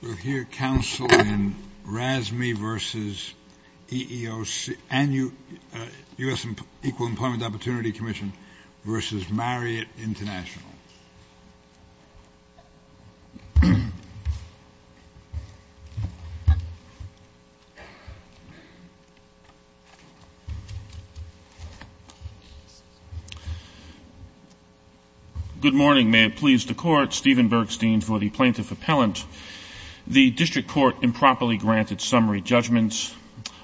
Good morning, may it please the Court, Stephen Bergstein for the Plaintiff Appellant. The District Court improperly granted summary judgments.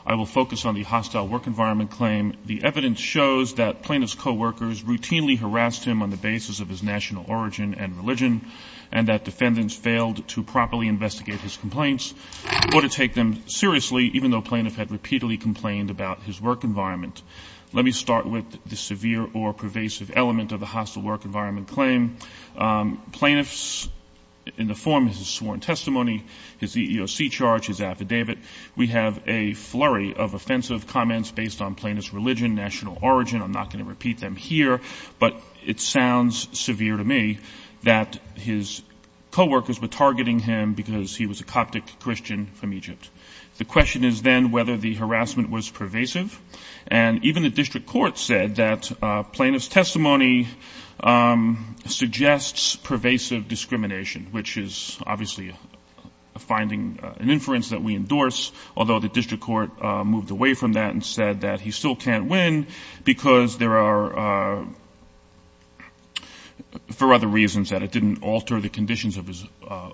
I will focus on the hostile work environment claim. The evidence shows that plaintiff's co-workers routinely harassed him on the basis of his national origin and religion, and that defendants failed to properly investigate his complaints or to take them seriously, even though plaintiff had repeatedly complained about his work environment. Let me start with the severe or pervasive element of the hostile work environment claim. Plaintiffs, in the form of his sworn testimony, his EEOC charge, his affidavit, we have a flurry of offensive comments based on plaintiff's religion, national origin, I'm not going to repeat them here, but it sounds severe to me that his co-workers were targeting him because he was a Coptic Christian from Egypt. The question is then whether the harassment was pervasive, and even the District Court said that plaintiff's testimony suggests pervasive discrimination, which is obviously finding an inference that we endorse, although the District Court moved away from that and said that he still can't win because there are, for other reasons, that it didn't alter the conditions of his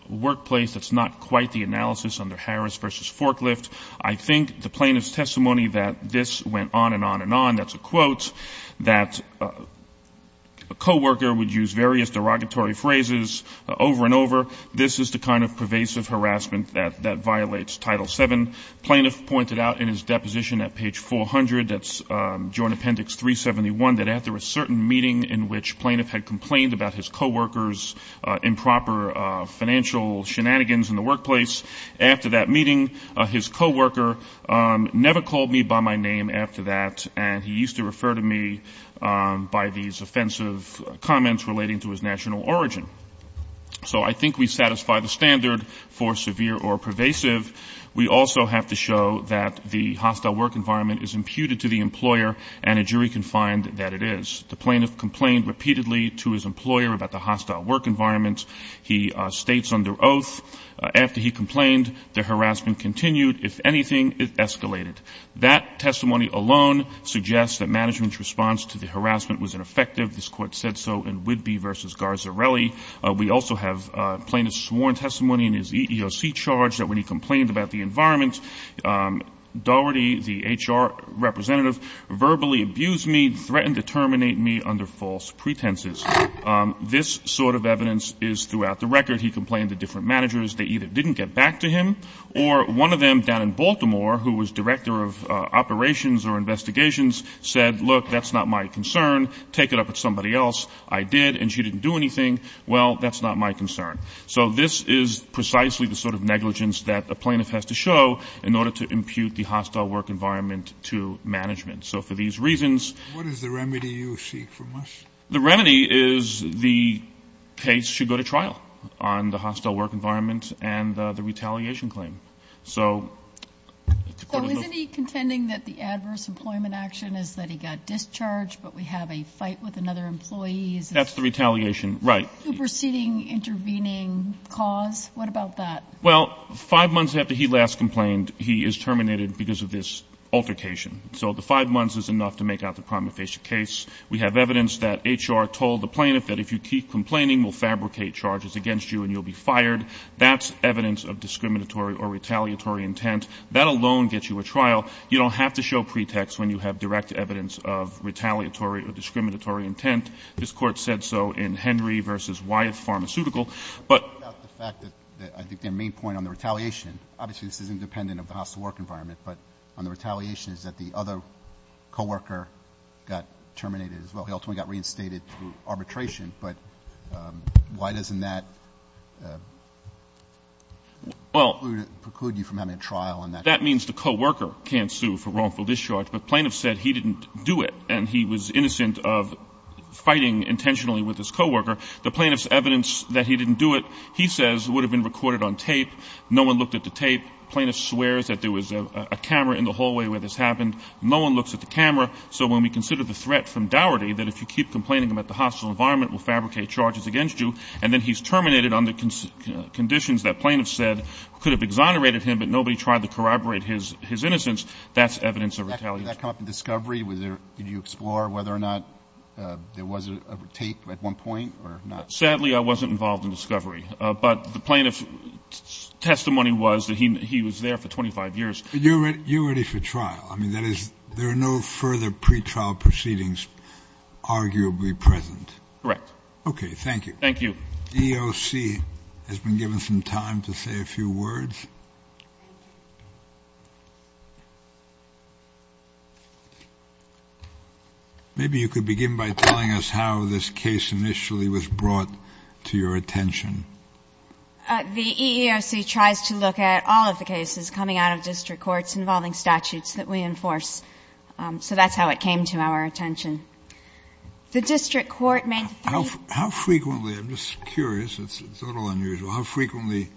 workplace, that's not quite the analysis under Harris v. Forklift. I think the plaintiff's testimony that this went on and on and on, that's a quote, that a co-worker would use various derogatory phrases over and over, this is the kind of pervasive harassment that violates Title VII. Plaintiff pointed out in his deposition at page 400, that's Joint Appendix 371, that after a certain meeting in which plaintiff had complained about his co-workers' improper financial shenanigans in the workplace, after that meeting his co-worker never called me by my name after that and he used to refer to me by these offensive comments relating to his national origin. So I think we satisfy the standard for severe or pervasive. We also have to show that the hostile work environment is imputed to the employer and a jury can find that it is. The plaintiff complained repeatedly to his employer about the hostile work environment. He states under oath, after he complained, the harassment continued. If anything, it escalated. That testimony alone suggests that management's response to the harassment was ineffective. This court said so in Whidbey v. Garzarelli. We also have plaintiff's sworn testimony in his EEOC charge that when he complained about the environment, Doherty, the HR representative, verbally abused me, threatened to terminate me under false pretenses. This sort of evidence is throughout the record. He complained to different managers. They either didn't get back to him, or one of them down in Baltimore, who was director of operations or investigations, said, look, that's not my concern. Take it up with somebody else. I did, and she didn't do anything. Well, that's not my concern. So this is precisely the sort of negligence that a plaintiff has to show in order to impute the hostile work environment to management. What is the remedy you seek from us? The remedy is the case should go to trial on the hostile work environment and the retaliation claim. So isn't he contending that the adverse employment action is that he got discharged, but we have a fight with another employee? That's the retaliation, right. Superseding intervening cause. What about that? Well, five months after he last complained, he is terminated because of this altercation. So the five months is enough to make out the prima facie case. We have evidence that HR told the plaintiff that if you keep complaining, we'll fabricate charges against you and you'll be fired. That's evidence of discriminatory or retaliatory intent. That alone gets you a trial. You don't have to show pretext when you have direct evidence of retaliatory or discriminatory intent. This court said so in Henry v. Wyeth Pharmaceutical. I think the main point on the retaliation, obviously this is independent of the hostile work environment, but on the retaliation is that the other coworker got terminated as well. He also got reinstated through arbitration. But why doesn't that preclude you from having a trial? That means the coworker can't sue for wrongful discharge. The plaintiff said he didn't do it, and he was innocent of fighting intentionally with his coworker. The plaintiff's evidence that he didn't do it, he says, would have been recorded on tape. No one looked at the tape. The plaintiff swears that there was a camera in the hallway where this happened. No one looks at the camera. So when we consider the threat from Doherty, that if you keep complaining about the hostile environment, we'll fabricate charges against you, and then he's terminated under conditions that plaintiffs said could have exonerated him, but nobody tried to corroborate his innocence, that's evidence of retaliation. Did that come up in discovery? Did you explore whether or not there was a tape at one point or not? Sadly, I wasn't involved in discovery. But the plaintiff's testimony was that he was there for 25 years. You're ready for trial. There are no further pretrial proceedings arguably present. Okay, thank you. Thank you. EOC has been given some time to say a few words. Maybe you could begin by telling us how this case initially was brought to your attention. The EEOC tries to look at all of the cases coming out of district courts involving statutes that we enforce. So that's how it came to our attention. The district court may... How frequently, I'm just curious, it's a little unusual, how frequently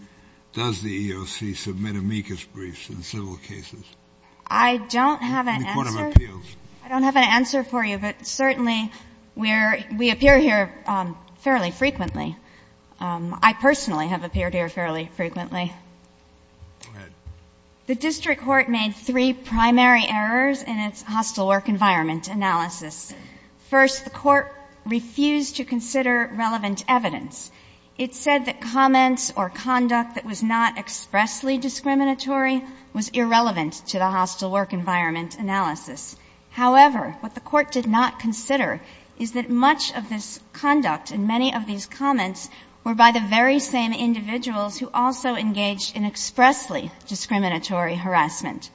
does the EEOC submit amicus briefs in civil cases? I don't have an answer. In court of appeals. I don't have an answer for you, but certainly we appear here fairly frequently. I personally have appeared here fairly frequently. Go ahead. The district court made three primary errors in its hostile work environment analysis. First, the court refused to consider relevant evidence. It said that comments or conduct that was not expressly discriminatory was irrelevant to the hostile work environment analysis. However, what the court did not consider is that much of this conduct and many of these comments were by the very same individuals who also engaged in expressly discriminatory harassment.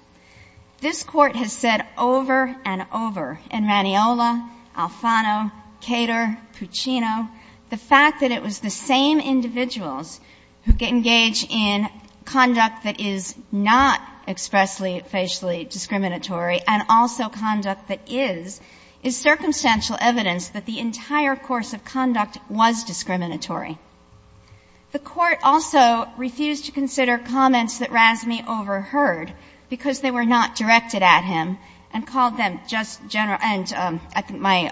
This court has said over and over, in Raniola, Alfano, Cater, Puccino, the fact that it was the same individuals who engage in conduct that is not expressly, facially discriminatory and also conduct that is, is circumstantial evidence that the entire course of conduct was discriminatory. The court also refused to consider comments that Razmi overheard because they were not directed at him and called them just general... My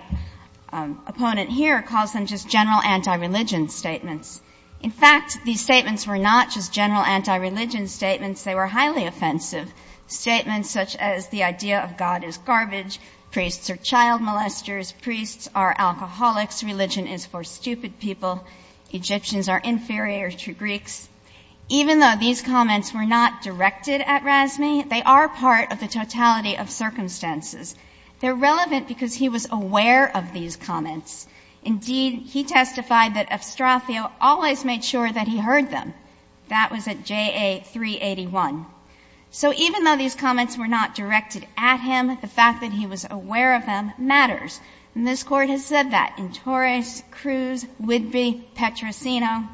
opponent here calls them just general anti-religion statements. In fact, these statements were not just general anti-religion statements. They were highly offensive statements such as the idea of God is garbage, priests are child molesters, priests are alcoholics, religion is for stupid people, Egyptians are inferior to Greeks. Even though these comments were not directed at Razmi, they are part of the totality of circumstances. They're relevant because he was aware of these comments. Indeed, he testified that Estrafio always made sure that he heard them. That was at JA 381. So even though these comments were not directed at him, the fact that he was aware of them matters. And this court has said that in Torres, Cruz, Whidbey, Petrosino.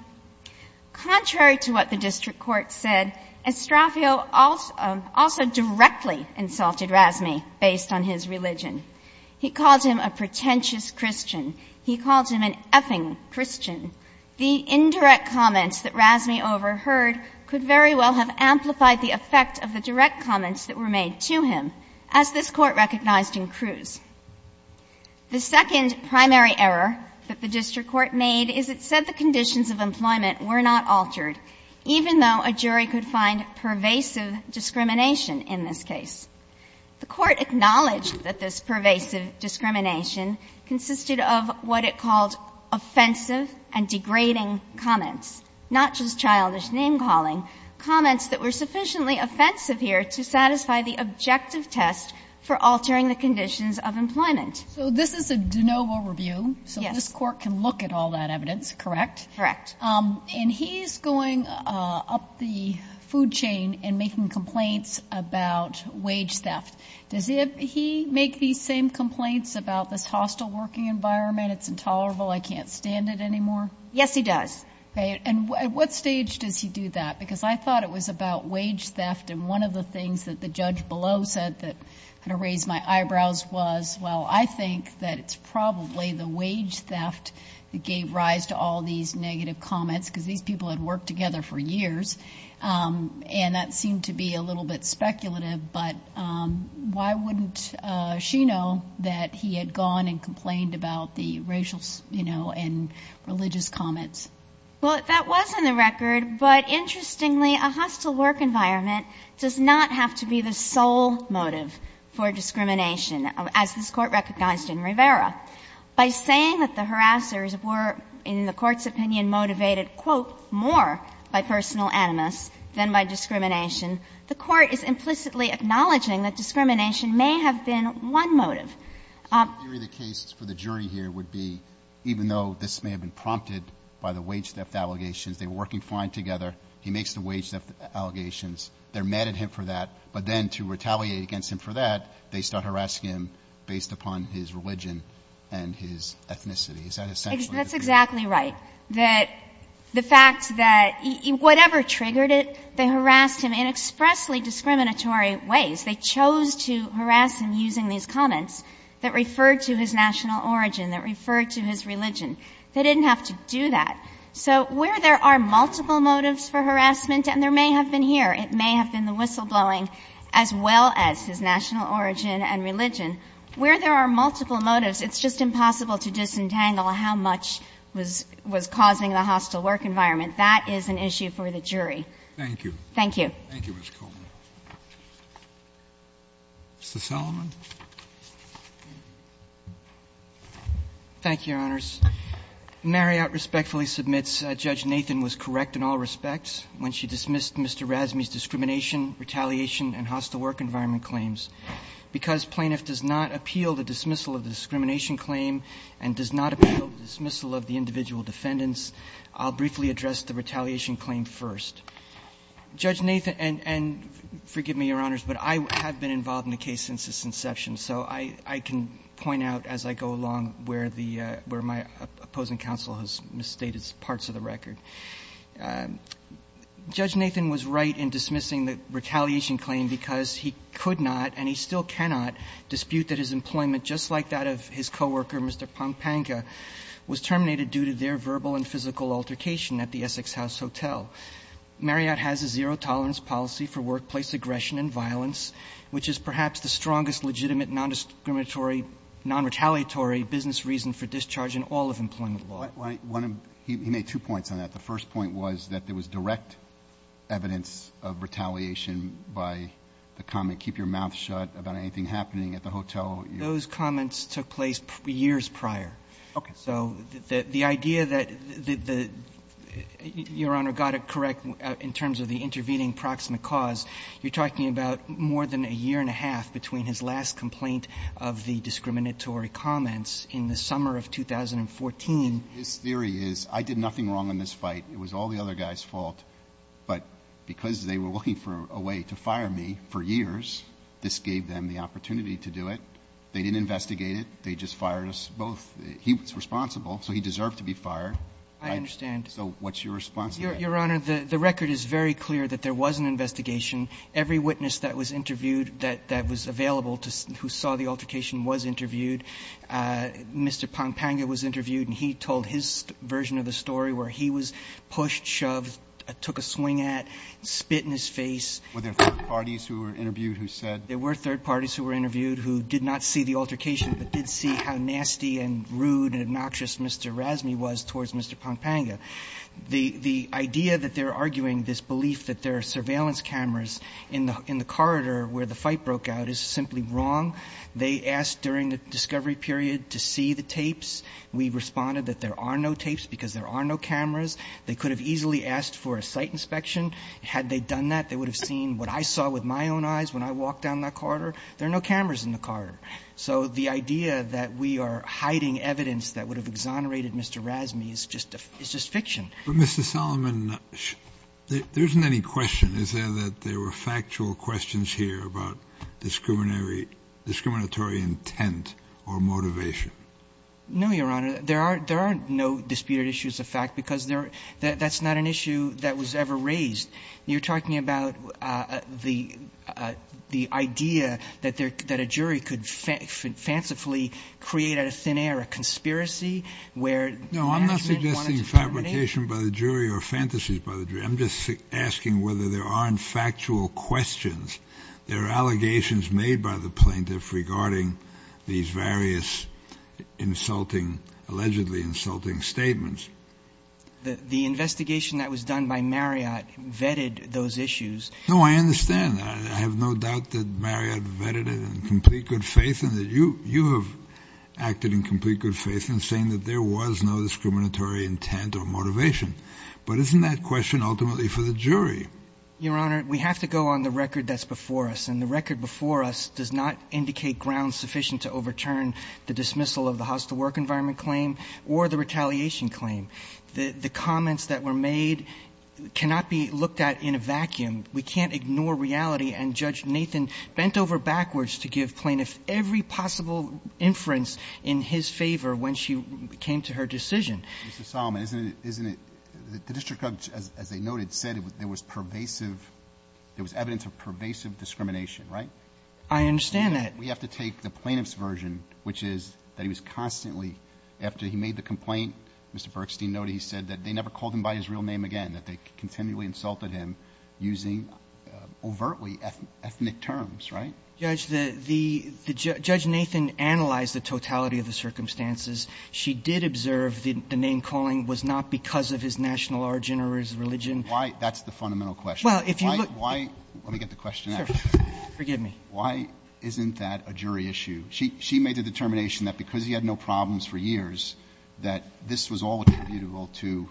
Contrary to what the district court said, Estrafio also directly insulted Razmi based on his religion. He calls him a pretentious Christian. He calls him an effing Christian. The indirect comments that Razmi overheard could very well have amplified the effect of the direct comments that were made to him, as this court recognized in Cruz. The second primary error that the district court made is it said the conditions of employment were not altered, even though a jury could find pervasive discrimination in this case. The court acknowledged that this pervasive discrimination consisted of what it called offensive and degrading comments, not just childish name-calling, comments that were sufficiently offensive here to satisfy the objective test for altering the conditions of employment. So this is a de novo review. So this court can look at all that evidence, correct? Correct. And he's going up the food chain and making complaints about wage theft. Does he make these same complaints about this hostile working environment? It's intolerable. I can't stand it anymore. Yes, he does. And at what stage does he do that? Because I thought it was about wage theft, and one of the things that the judge below said that kind of raised my eyebrows was, well, I think that it's probably the wage theft that gave rise to all these negative comments because these people had worked together for years, and that seemed to be a little bit speculative, but why wouldn't she know that he had gone and complained about the racial and religious comments? Well, that was on the record, but interestingly, a hostile work environment does not have to be the sole motive for discrimination. As this court recognizes in Rivera, by saying that the harassers were, in the court's opinion, motivated, quote, more by personal animus than by discrimination, the court is implicitly acknowledging that discrimination may have been one motive. The case for the jury here would be, even though this may have been prompted by the wage theft allegations, they were working fine together, he makes the wage theft allegations, they're mad at him for that, but then to retaliate against him for that, based on harassing him, based upon his religion and his ethnicity. That's exactly right, that the fact that whatever triggered it, they harassed him in expressly discriminatory ways. They chose to harass him using these comments that referred to his national origin, that referred to his religion. They didn't have to do that. So where there are multiple motives for harassment, and there may have been here, it may have been the whistleblowing, as well as his national origin and religion. Where there are multiple motives, it's just impossible to disentangle how much was causing the hostile work environment. That is an issue for the jury. Thank you. Thank you. Thank you, Ms. Coleman. Mr. Salomon? Thank you, Your Honors. Marriott respectfully submits that Judge Nathan was correct in all respects when she dismissed Mr. Razmi's discrimination, retaliation, and hostile work environment claims. Because plaintiff does not appeal the dismissal of the discrimination claim and does not appeal the dismissal of the individual defendants, I'll briefly address the retaliation claim first. Judge Nathan, and forgive me, Your Honors, but I have been involved in the case since its inception, so I can point out as I go along where my opposing counsel has misstated parts of the record. Judge Nathan was right in dismissing the retaliation claim because he could not and he still cannot dispute that his employment, just like that of his coworker, Mr. Pampanga, was terminated due to their verbal and physical altercation at the Essex House Hotel. Marriott has a zero tolerance policy for workplace aggression and violence, which is perhaps the strongest legitimate non-discriminatory, non-retaliatory business reason for discharge in all of employment law. He made two points on that. The first point was that there was direct evidence of retaliation by the comment, keep your mouth shut about anything happening at the hotel. Those comments took place years prior. So the idea that the, Your Honor, got it correct in terms of the intervening proximate cause, you're talking about more than a year and a half between his last complaint of the discriminatory comments in the summer of 2014. His theory is I did nothing wrong in this fight. It was all the other guy's fault. But because they were looking for a way to fire me for years, this gave them the opportunity to do it. They didn't investigate it. They just fired us both. He was responsible, so he deserved to be fired. I understand. So what's your response? Your Honor, the record is very clear that there was an investigation. Every witness that was interviewed that was available who saw the altercation was interviewed. Mr. Pompanga was interviewed, and he told his version of the story where he was pushed, shoved, took a swing at, spit in his face. Were there third parties who were interviewed who said? There were third parties who were interviewed who did not see the altercation but did see how nasty and rude and obnoxious Mr. Rasney was towards Mr. Pompanga. The idea that they're arguing this belief that there are surveillance cameras in the corridor where the fight broke out is simply wrong. They asked during the discovery period to see the tapes. We responded that there are no tapes because there are no cameras. They could have easily asked for a site inspection. Had they done that, they would have seen what I saw with my own eyes when I walked down that corridor. There are no cameras in the corridor. The idea that we are hiding evidence that would have exonerated Mr. Rasney is just fiction. Mr. Solomon, there isn't any question. Is there that there were factual questions here about discriminatory intent or motivation? No, Your Honor. There are no disputed issues of fact because that's not an issue that was ever raised. You're talking about the idea that a jury could fancifully create a thin air, a conspiracy? No, I'm not suggesting fabrication by the jury or fantasies by the jury. I'm just asking whether there aren't factual questions. There are allegations made by the plaintiff regarding these various allegedly insulting statements. The investigation that was done by Marriott vetted those issues. No, I understand. I have no doubt that Marriott vetted it in complete good faith and that you have acted in complete good faith in saying that there was no discriminatory intent or motivation. But isn't that question ultimately for the jury? Your Honor, we have to go on the record that's before us. And the record before us does not indicate ground sufficient to overturn the dismissal of the hostile work environment claim or the retaliation claim. The comments that were made cannot be looked at in a vacuum. We can't ignore reality and Judge Nathan bent over backwards to give plaintiffs every possible inference in his favor when she came to her decision. Mr. Solomon, isn't it, the district judge, as they noted, said there was pervasive, there was evidence of pervasive discrimination, right? I understand that. We have to take the plaintiff's version, which is that he was constantly, after he made the complaint, Mr. Burstein noted he said that they never called him by his real name again, that they continually insulted him using overtly ethnic terms, right? Judge, the, the, Judge Nathan analyzed the totality of the circumstances. She did observe the name calling was not because of his national origin or his religion. Why, that's the fundamental question. Well, if you look. Why, let me get the question out. Sir, forgive me. Why isn't that a jury issue? She, she made a determination that because he had no problems for years, that this was all attributable to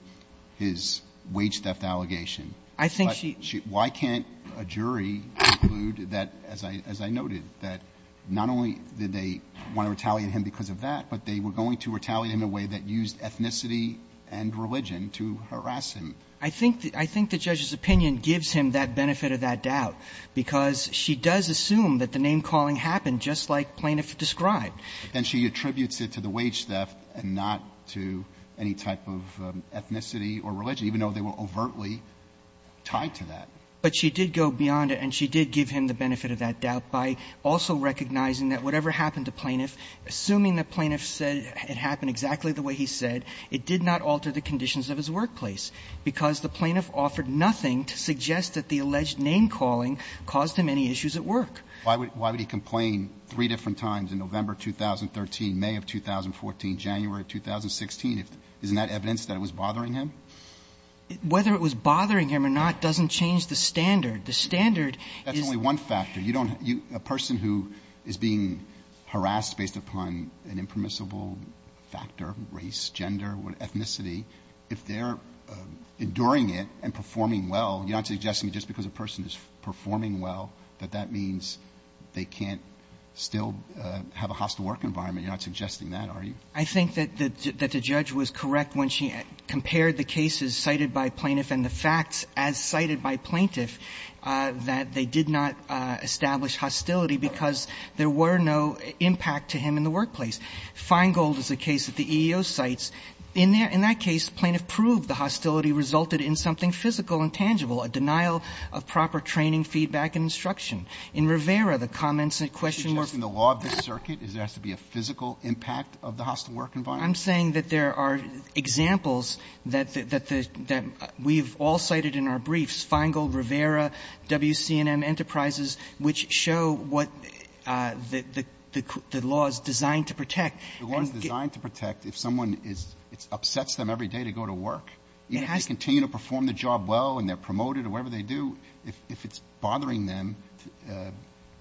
his wage theft allegation. I think she. Why can't a jury conclude that, as I, as I noted, that not only did they want to retaliate him because of that, but they were going to retaliate in a way that used ethnicity and religion to harass him. I think, I think the judge's opinion gives him that benefit of that doubt because she does assume that the name calling happened just like plaintiff described. And she attributes it to the wage theft and not to any type of ethnicity or religion, even though they were overtly tied to that. But she did go beyond it and she did give him the benefit of that doubt by also recognizing that whatever happened to plaintiff, assuming the plaintiff said it happened exactly the way he said, it did not alter the conditions of his workplace. Because the plaintiff offered nothing to suggest that the alleged name calling caused him any issues at work. Why would, why would he complain three different times in November, 2013, May of 2014, January of 2016? Isn't that evidence that it was bothering him? Whether it was bothering him or not doesn't change the standard. The standard is... That's only one factor. A person who is being harassed based upon an impermissible factor, race, gender, ethnicity, if they're enduring it and performing well, you're not suggesting just because a person is performing well that that means they can't still have a hostile work environment. You're not suggesting that, are you? I think that the judge was correct when she compared the cases cited by plaintiffs and the facts as cited by plaintiffs that they did not establish hostility because there were no impact to him in the workplace. Feingold is a case that the EEO cites. In that case, plaintiff proved the hostility resulted in something physical and tangible, a denial of proper training, feedback, and instruction. In Rivera, the comments and questions... She's working the law of the circuit. Does there have to be a physical impact of the hostile work environment? I'm saying that there are examples that we've all cited in our briefs, Feingold, Rivera, WCNN, Enterprises, which show what the law is designed to protect. The law is designed to protect if someone upsets them every day to go to work. If they continue to perform the job well and they're promoted or whatever they do, if it's bothering them,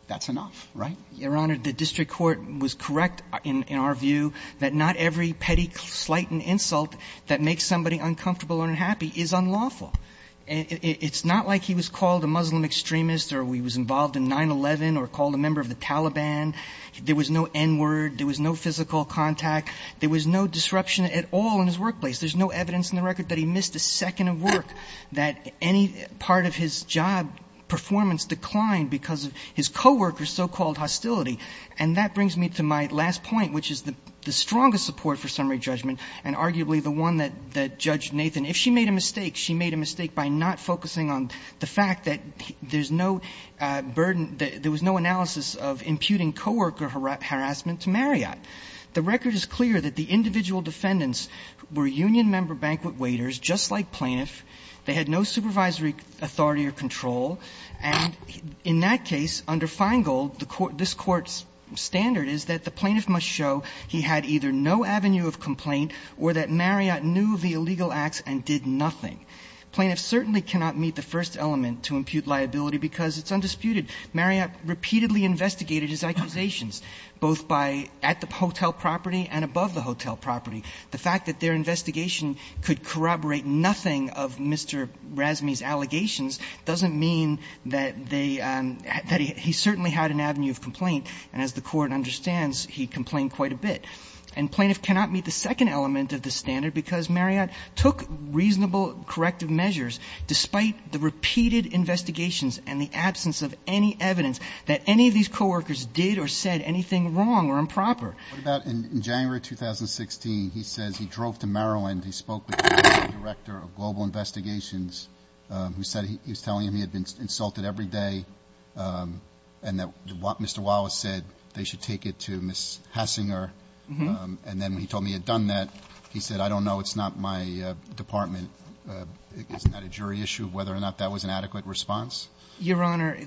that's enough, right? Your Honor, the district court was correct in our view that not every petty slight and insult that makes somebody uncomfortable or unhappy is unlawful. It's not like he was called a Muslim extremist or he was involved in 9-11 or called a member of the Taliban. There was no N-word. There was no physical contact. There was no disruption at all in his workplace. There's no evidence in the record that he missed a second of work, that any part of his job performance declined because of his co-worker's so-called hostility. And that brings me to my last point, which is the strongest support for summary judgment and arguably the one that Judge Nathan... If she made a mistake, she made a mistake by not focusing on the fact that there was no analysis of imputing co-worker harassment to Marriott. The record is clear that the individual defendants were union member banquet waiters, just like plaintiffs. They had no supervisory authority or control. And in that case, under Feingold, this court's standard is that the plaintiff must show he had either no avenue of complaint or that Marriott knew the illegal acts and did nothing. Plaintiffs certainly cannot meet the first element to impute liability because it's undisputed. Marriott repeatedly investigated his accusations, both at the hotel property and above the hotel property. The fact that their investigation could corroborate nothing of Mr. Razzani's allegations doesn't mean that he certainly had an avenue of complaint. And as the court understands, he complained quite a bit. And plaintiffs cannot meet the second element of the standard because Marriott took reasonable corrective measures despite the repeated investigations and the absence of any evidence that any of these co-workers did or said anything wrong or improper. In January 2016, he said he drove to Maryland. He spoke with the director of global investigations. He said he's telling me he had been insulted every day and that Mr. Wallace said they should take it to Ms. Hasinger. And then he told me he had done that. He said, I don't know. It's not my department. It's not a jury issue of whether or not that was an adequate response. Your Honor,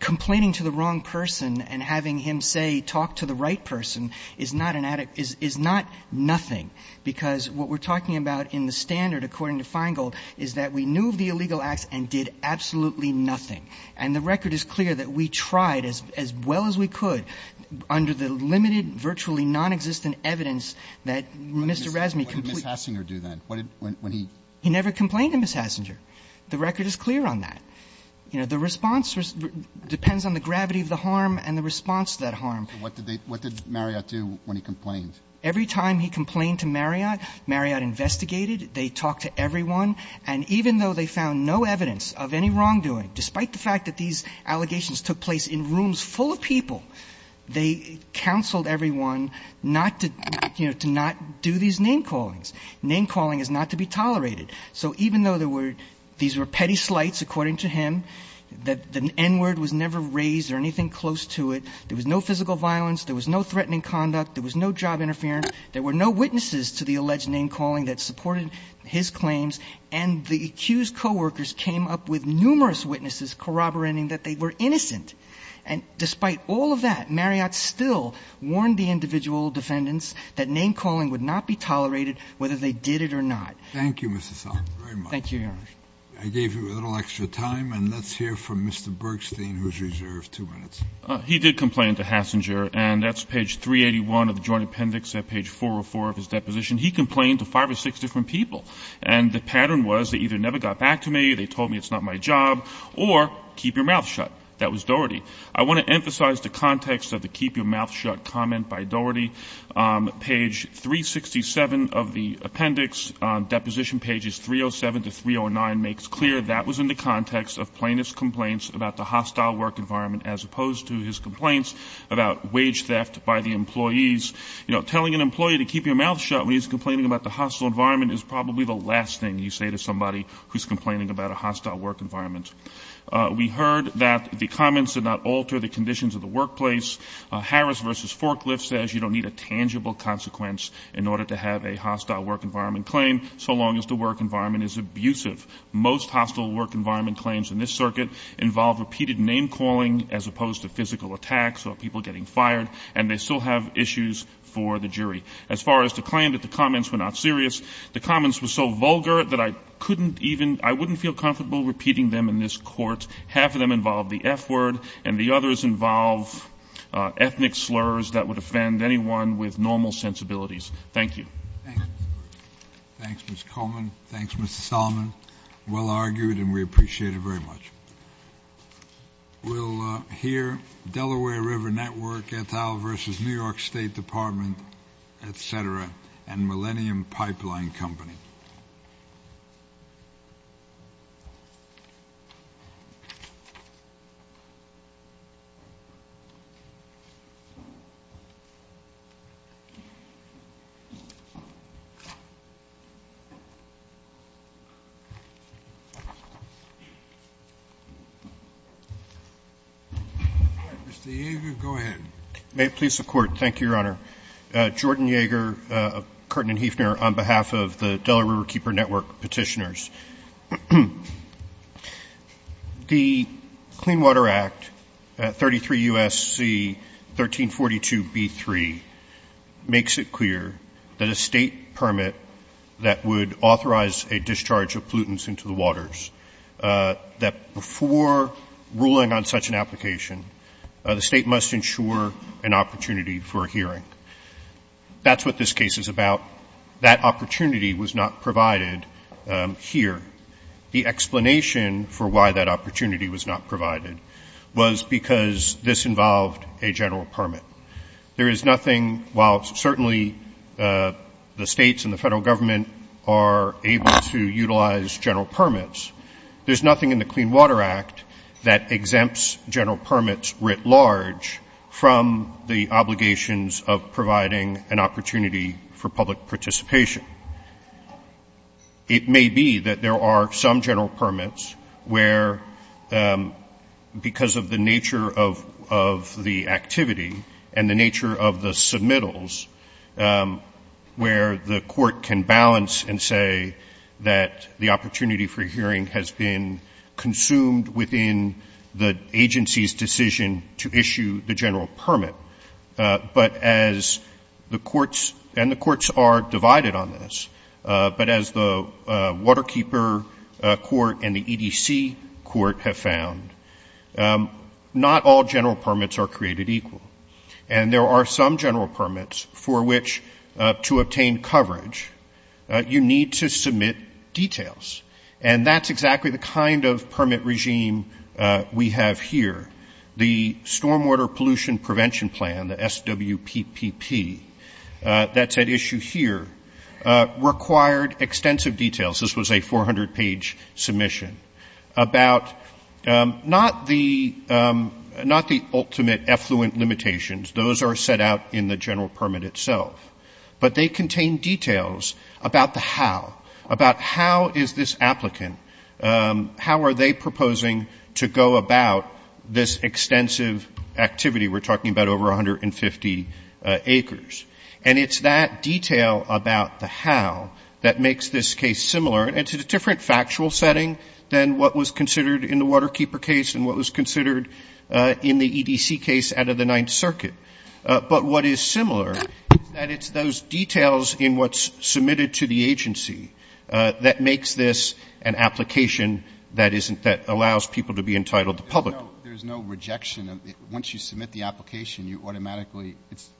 complaining to the wrong person and having him say, talk to the right person is not nothing. Because what we're talking about in the standard, according to Feingold, is that we knew of the illegal act and did absolutely nothing. And the record is clear that we tried as well as we could under the limited, virtually nonexistent evidence that Mr. Razzani completed. How did Ms. Hasinger do that? He never complained to Ms. Hasinger. The record is clear on that. The response depends on the gravity of the harm and the response to that harm. What did Marriott do when he complained? Every time he complained to Marriott, Marriott investigated. They talked to everyone. And even though they found no evidence of any wrongdoing, despite the fact that these allegations took place in rooms full of people, they counseled everyone not to do these name callings. Name calling is not to be tolerated. So even though these were petty slights, according to him, the N-word was never raised or anything close to it, there was no physical violence, there was no threatening conduct, there was no job interference, there were no witnesses to the alleged name calling that supported his claims, and the accused co-workers came up with numerous witnesses corroborating that they were innocent. And despite all of that, Marriott still warned the individual defendants that name calling would not be tolerated, whether they did it or not. Thank you, Mr. Salk, very much. Thank you, Henry. I gave you a little extra time, and let's hear from Mr. Bergstein, who's reserved two minutes. He did complain to Hassinger, and that's page 381 of the joint appendix at page 404 of his deposition. He complained to five or six different people, and the pattern was they either never got back to me, they told me it's not my job, or keep your mouth shut. That was Dougherty. I want to emphasize the context of the keep your mouth shut comment by Dougherty. Page 367 of the appendix, deposition pages 307 to 309, makes clear that was in the context of plaintiff's complaints about the hostile work environment as opposed to his complaints about wage theft by the employees. You know, telling an employee to keep your mouth shut when he's complaining about the hostile environment is probably the last thing you say to somebody who's complaining about a hostile work environment. We heard that the comments did not alter the conditions of the workplace. Harris v. Forklift says you don't need a tangible consequence in order to have a hostile work environment claim so long as the work environment is abusive. Most hostile work environment claims in this circuit involve repeated name calling as opposed to physical attacks or people getting fired, and they still have issues for the jury. As far as the claim that the comments were not serious, the comments were so vulgar that I couldn't even, I wouldn't feel comfortable repeating them in this court. Half of them involve the F word, and the others involve ethnic slurs that would offend anyone with normal sensibilities. Thank you. Thanks, Ms. Coleman. Thanks, Mr. Solomon. Well argued, and we appreciate it very much. We'll hear Delaware River Network, Ethel v. New York State Department, et cetera, and Millennium Pipeline Company. Mr. Yeager, go ahead. May it please the Court. Thank you, Your Honor. Jordan Yeager of Curtin and Hefner on behalf of the Delaware Riverkeeper Network petitioners. The Clean Water Act, 33 U.S.C. 1342b3, makes it clear that a state permit that would authorize a discharge of pollutants that before ruling on such an application, the state must ensure an opportunity for a hearing. That's what this case is about. That opportunity was not provided here. The explanation for why that opportunity was not provided was because this involved a general permit. There is nothing, while certainly the states and the federal government are able to utilize general permits, there's nothing in the Clean Water Act that exempts general permits writ large from the obligations of providing an opportunity for public participation. It may be that there are some general permits where, because of the nature of the activity and the nature of the submittals, where the court can balance and say that the opportunity for hearing has been consumed within the agency's decision to issue the general permit. But as the courts, and the courts are divided on this, but as the Waterkeeper Court and the EDC Court have found, not all general permits are created equal. And there are some general permits for which, to obtain coverage, you need to submit details. And that's exactly the kind of permit regime we have here. The Stormwater Pollution Prevention Plan, the SWPPP, that's at issue here, required extensive details. This was a 400-page submission about not the ultimate effluent limitations. Those are set out in the general permit itself. But they contain details about the how, about how is this applicant, how are they proposing to go about this extensive activity? We're talking about over 150 acres. And it's that detail about the how that makes this case similar. It's a different factual setting than what was considered in the Waterkeeper case and what was considered in the EDC case out of the Ninth Circuit. But what is similar, that it's those details in what's submitted to the agency that makes this an application that isn't, that allows people to be entitled to public. There's no rejection. Once you submit the application, you automatically, it's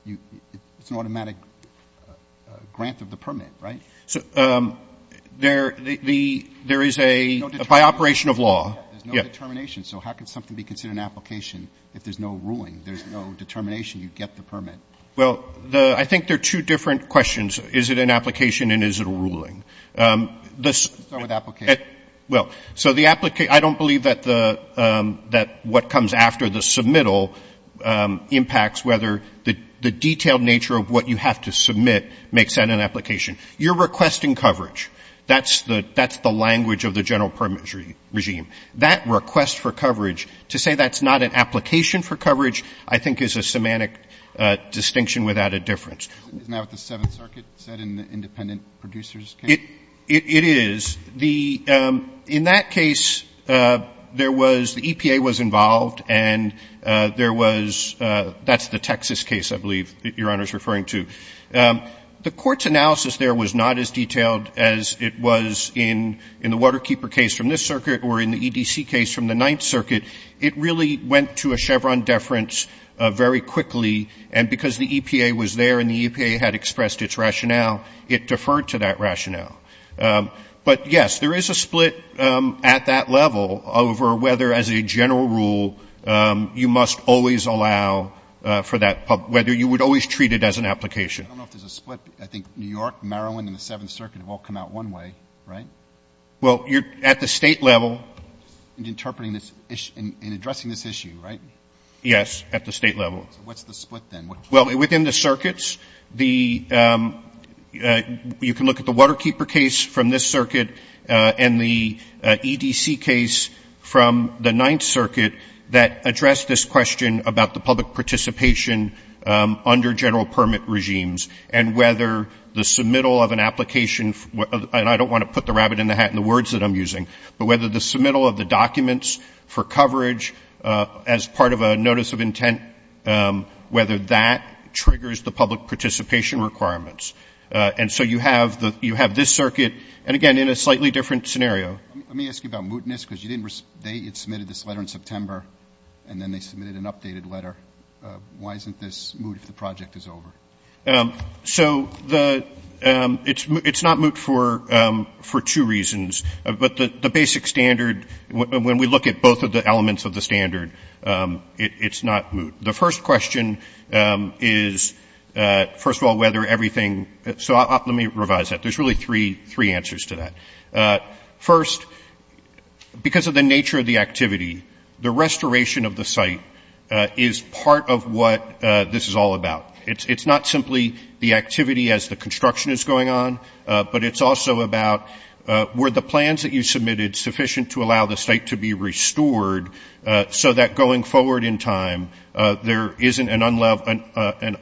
an automatic grant of the permit, right? There is a, by operation of law. There's no determination. So how can something be considered an application if there's no ruling, there's no determination, you get the permit? Well, the, I think they're two different questions. Is it an application and is it a ruling? Start with application. Well, so the, I don't believe that the, that what comes after the submittal impacts whether the detailed nature of what you have to submit makes that an application. You're requesting coverage. That's the language of the general permit regime. That request for coverage, to say that's not an application for coverage, I think is a semantic distinction without a difference. Now with the Seventh Circuit, is that an independent producer's case? It is. The, in that case, there was, the EPA was involved and there was, that's the Texas case, I believe, that Your Honor is referring to. The court's analysis there was not as detailed as it was in the Waterkeeper case from this circuit or in the EDC case from the Ninth Circuit. It really went to a Chevron deference very quickly and because the EPA was there and the EPA had expressed its rationale, it deferred to that rationale. But yes, there is a split at that level over whether as a general rule, you must always allow for that, whether you would always treat it as an application. I don't know if there's a split. I think New York, Marowen, and the Seventh Circuit have all come out one way, right? Well, at the state level. In interpreting this issue, in addressing this issue, right? Yes, at the state level. What's the split then? Well, within the circuits, the, you can look at the Waterkeeper case from this circuit and the EDC case from the Ninth Circuit that addressed this question about the public participation under general permit regimes and whether the submittal of an application, and I don't want to put the rabbit in the hat in the words that I'm using, but whether the submittal of the documents for coverage as part of a notice of intent, whether that triggers the public participation requirements. And so you have this circuit, and again, in a slightly different scenario. Let me ask you about mootness, because they submitted this letter in September, and then they submitted an updated letter. Why isn't this moot if the project is over? So it's not moot for two reasons, but the basic standard, when we look at both of the elements of the standard, it's not moot. The first question is, first of all, whether everything, so let me revise that. There's really three answers to that. First, because of the nature of the activity, the restoration of the site is part of what this is all about. It's not simply the activity as the construction is going on, but it's also about were the plans that you submitted sufficient to allow the site to be restored so that going forward in time, there isn't an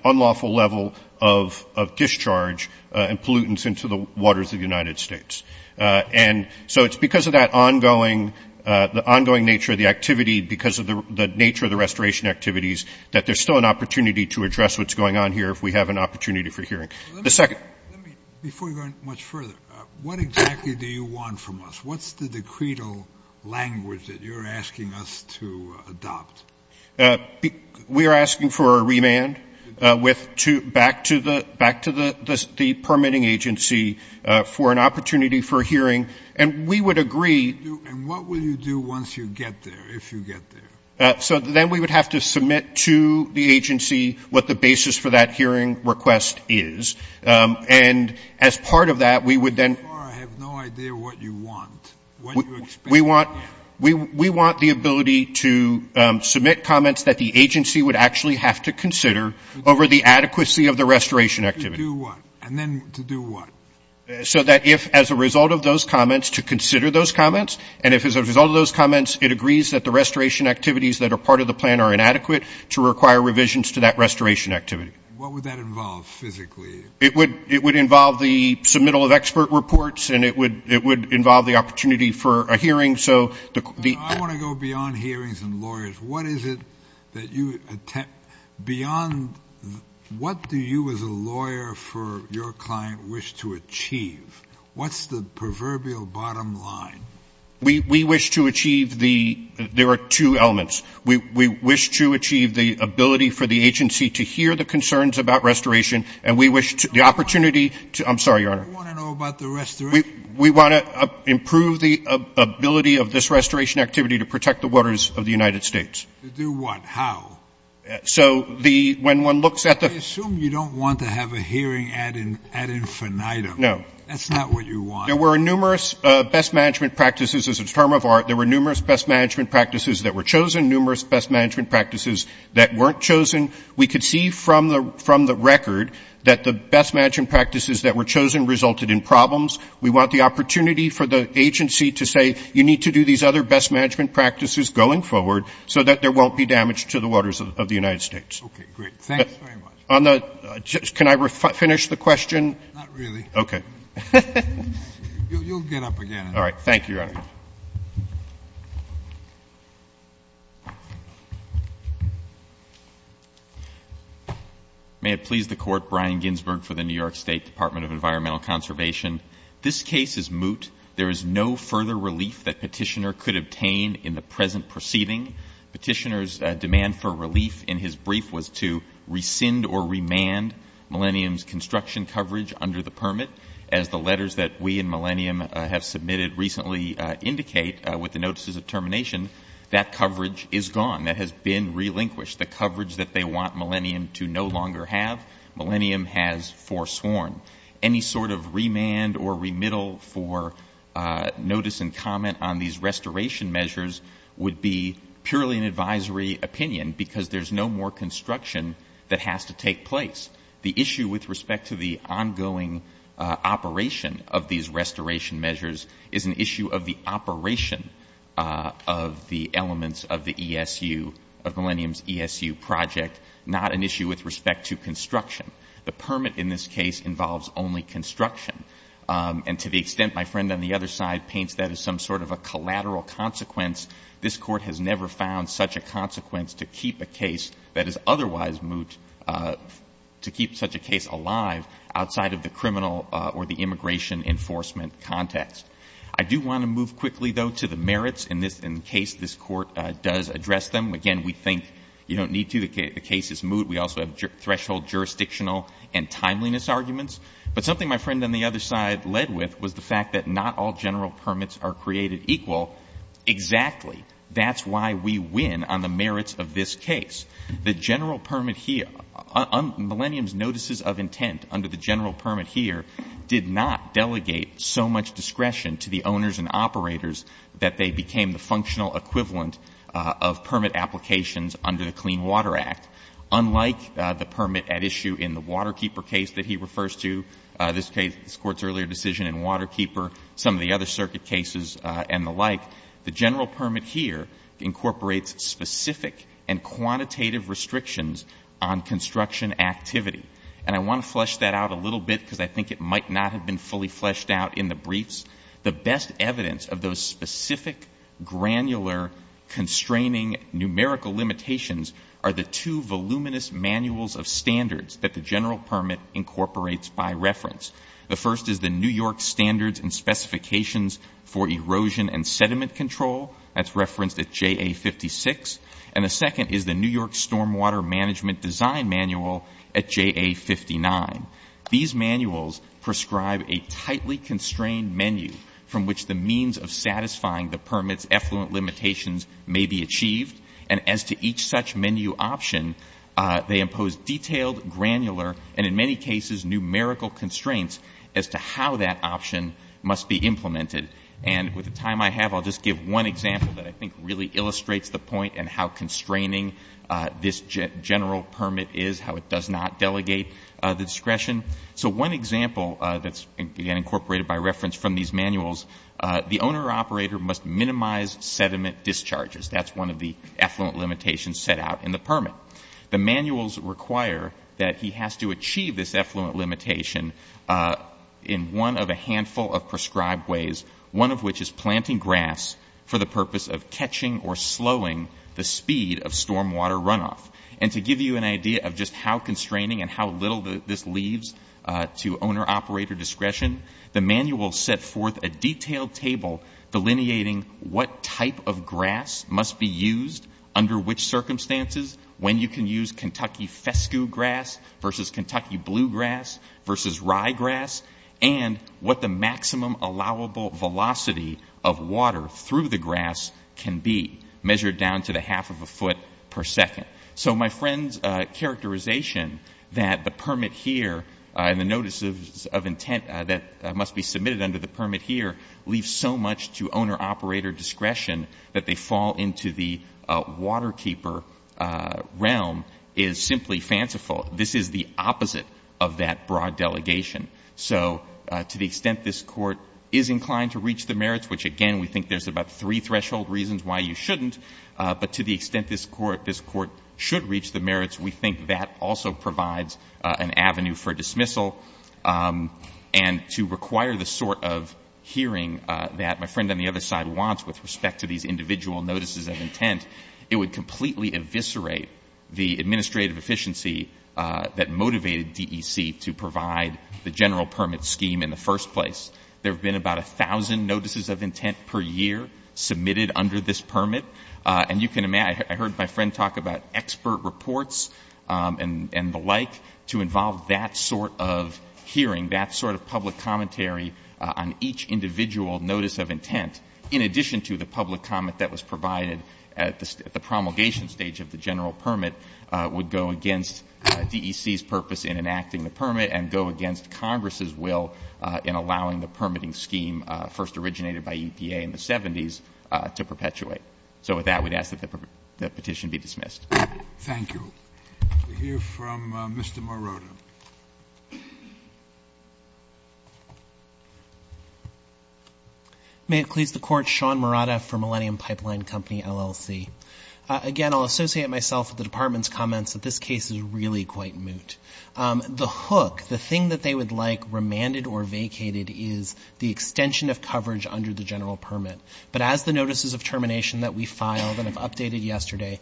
unlawful level of discharge and pollutants into the waters of the United States. And so it's because of that ongoing nature of the activity, because of the nature of the restoration activities, that there's still an opportunity to address what's going on here if we have an opportunity for hearing. The second. Before you go much further, what exactly do you want from us? What's the decretal language that you're asking us to adopt? We are asking for a remand back to the permitting agency for an opportunity for hearing. And we would agree. And what will you do once you get there, if you get there? So then we would have to submit to the agency what the basis for that hearing request is. And as part of that, we would then... I have no idea what you want. We want the ability to submit comments that the agency would actually have to consider over the adequacy of the restoration activity. To do what? And then to do what? So that if as a result of those comments, to consider those comments, and if as a result of those comments, it agrees that the restoration activities that are part of the plan are inadequate to require revisions to that restoration activity. What would that involve physically? It would involve the submittal of expert reports, and it would involve the opportunity for a hearing. I want to go beyond hearings and lawyers. What do you as a lawyer for your client wish to achieve? What's the proverbial bottom line? We wish to achieve the... there are two elements. We wish to achieve the ability for the agency to hear the concerns about restoration, and we wish the opportunity to... I'm sorry, Your Honor. What do you want to know about the restoration? We want to improve the ability of this restoration activity to protect the waters of the United States. To do what? How? So when one looks at the... I assume you don't want to have a hearing ad infinitum. No. That's not what you want. There were numerous best management practices as a term of art. There were numerous best management practices that were chosen, numerous best management practices that weren't chosen. We could see from the record that the best management practices that were chosen resulted in problems. We want the opportunity for the agency to say, you need to do these other best management practices going forward so that there won't be damage to the waters of the United States. Okay, great. Thanks very much. Can I finish the question? Not really. Okay. You'll get up again. All right, thank you, Your Honor. May it please the Court, Brian Ginsberg for the New York State Department of Environmental Conservation. This case is moot. There is no further relief that Petitioner could obtain in the present proceeding. Petitioner's demand for relief in his brief was to rescind or remand Millennium's construction coverage under the permit, as the letters that we and Millennium have submitted recently indicate, with the notices of termination, that coverage is gone. That has been relinquished. The coverage that they want Millennium to no longer have, Millennium has forsworn. Any sort of remand or remittal for notice and comment on these restoration measures would be purely an advisory opinion because there's no more construction that has to take place. The issue with respect to the ongoing operation of these restoration measures is an issue of the operation of the elements of the ESU, of Millennium's ESU project, not an issue with respect to construction. The permit in this case involves only construction, and to the extent my friend on the other side paints that as some sort of a collateral consequence, this Court has never found such a consequence to keep a case that is otherwise moot, to keep such a case alive outside of the criminal or the immigration enforcement context. I do want to move quickly, though, to the merits in this case. This Court does address them. Again, we think you don't need to. The case is moot. We also have threshold jurisdictional and timeliness arguments. But something my friend on the other side led with was the fact that not all general permits are created equal. Exactly. That's why we win on the merits of this case. The general permit here, Millennium's notices of intent under the general permit here, did not delegate so much discretion to the owners and operators that they became the functional equivalent of permit applications under the Clean Water Act. Unlike the permit at issue in the Waterkeeper case that he refers to, this case, this Court's earlier decision in Waterkeeper, some of the other circuit cases and the like, the general permit here incorporates specific and quantitative restrictions on construction activity. And I want to flesh that out a little bit because I think it might not have been fully fleshed out in the briefs. The best evidence of those specific, granular, constraining numerical limitations are the two voluminous manuals of standards that the general permit incorporates by reference. The first is the New York Standards and Specifications for Erosion and Sediment Control. That's referenced at JA56. And the second is the New York Stormwater Management Design Manual at JA59. These manuals prescribe a tightly constrained menu from which the means of satisfying the permit's effluent limitations may be achieved. And as to each such menu option, they impose detailed, granular, and in many cases numerical constraints as to how that option must be implemented. And with the time I have, I'll just give one example that I think really illustrates the point and how constraining this general permit is, how it does not delegate the discretion. So one example that's, again, incorporated by reference from these manuals, the owner or operator must minimize sediment discharges. That's one of the effluent limitations set out in the permit. The manuals require that he has to achieve this effluent limitation in one of a handful of prescribed ways, one of which is planting grass for the purpose of catching or slowing the speed of stormwater runoff. And to give you an idea of just how constraining and how little this leads to owner-operator discretion, the manuals set forth a detailed table delineating what type of grass must be used under which circumstances, when you can use Kentucky fescue grass versus Kentucky bluegrass versus ryegrass, and what the maximum allowable velocity of water through the grass can be, measured down to the half of a foot per second. So my friend's characterization that the permit here and the notices of intent that must be submitted under the permit here leave so much to owner-operator discretion that they fall into the waterkeeper realm is simply fanciful. This is the opposite of that broad delegation. So to the extent this Court is inclined to reach the merits, which, again, we think there's about three threshold reasons why you shouldn't, but to the extent this Court should reach the merits, we think that also provides an avenue for dismissal. And to require the sort of hearing that my friend on the other side wants with respect to these individual notices of intent, it would completely eviscerate the administrative efficiency that motivated DEC to provide the general permit scheme in the first place. There have been about 1,000 notices of intent per year submitted under this permit, and you can imagine, I heard my friend talk about expert reports and the like to involve that sort of hearing, that sort of public commentary on each individual notice of intent, in addition to the public comment that was provided at the promulgation stage of the general permit would go against DEC's purpose in enacting the permit and go against Congress's will in allowing the permitting scheme, first originated by EPA in the 70s, to perpetuate. So with that, we'd ask that the petition be dismissed. Thank you. We'll hear from Mr. Marotta. May it please the Court, Sean Marotta for Millennium Pipeline Company, LLC. Again, I'll associate myself with the Department's comments that this case is really quite moot. The hook, the thing that they would like remanded or vacated is the extension of coverage under the general permit. But as the notices of termination that we filed and have updated yesterday,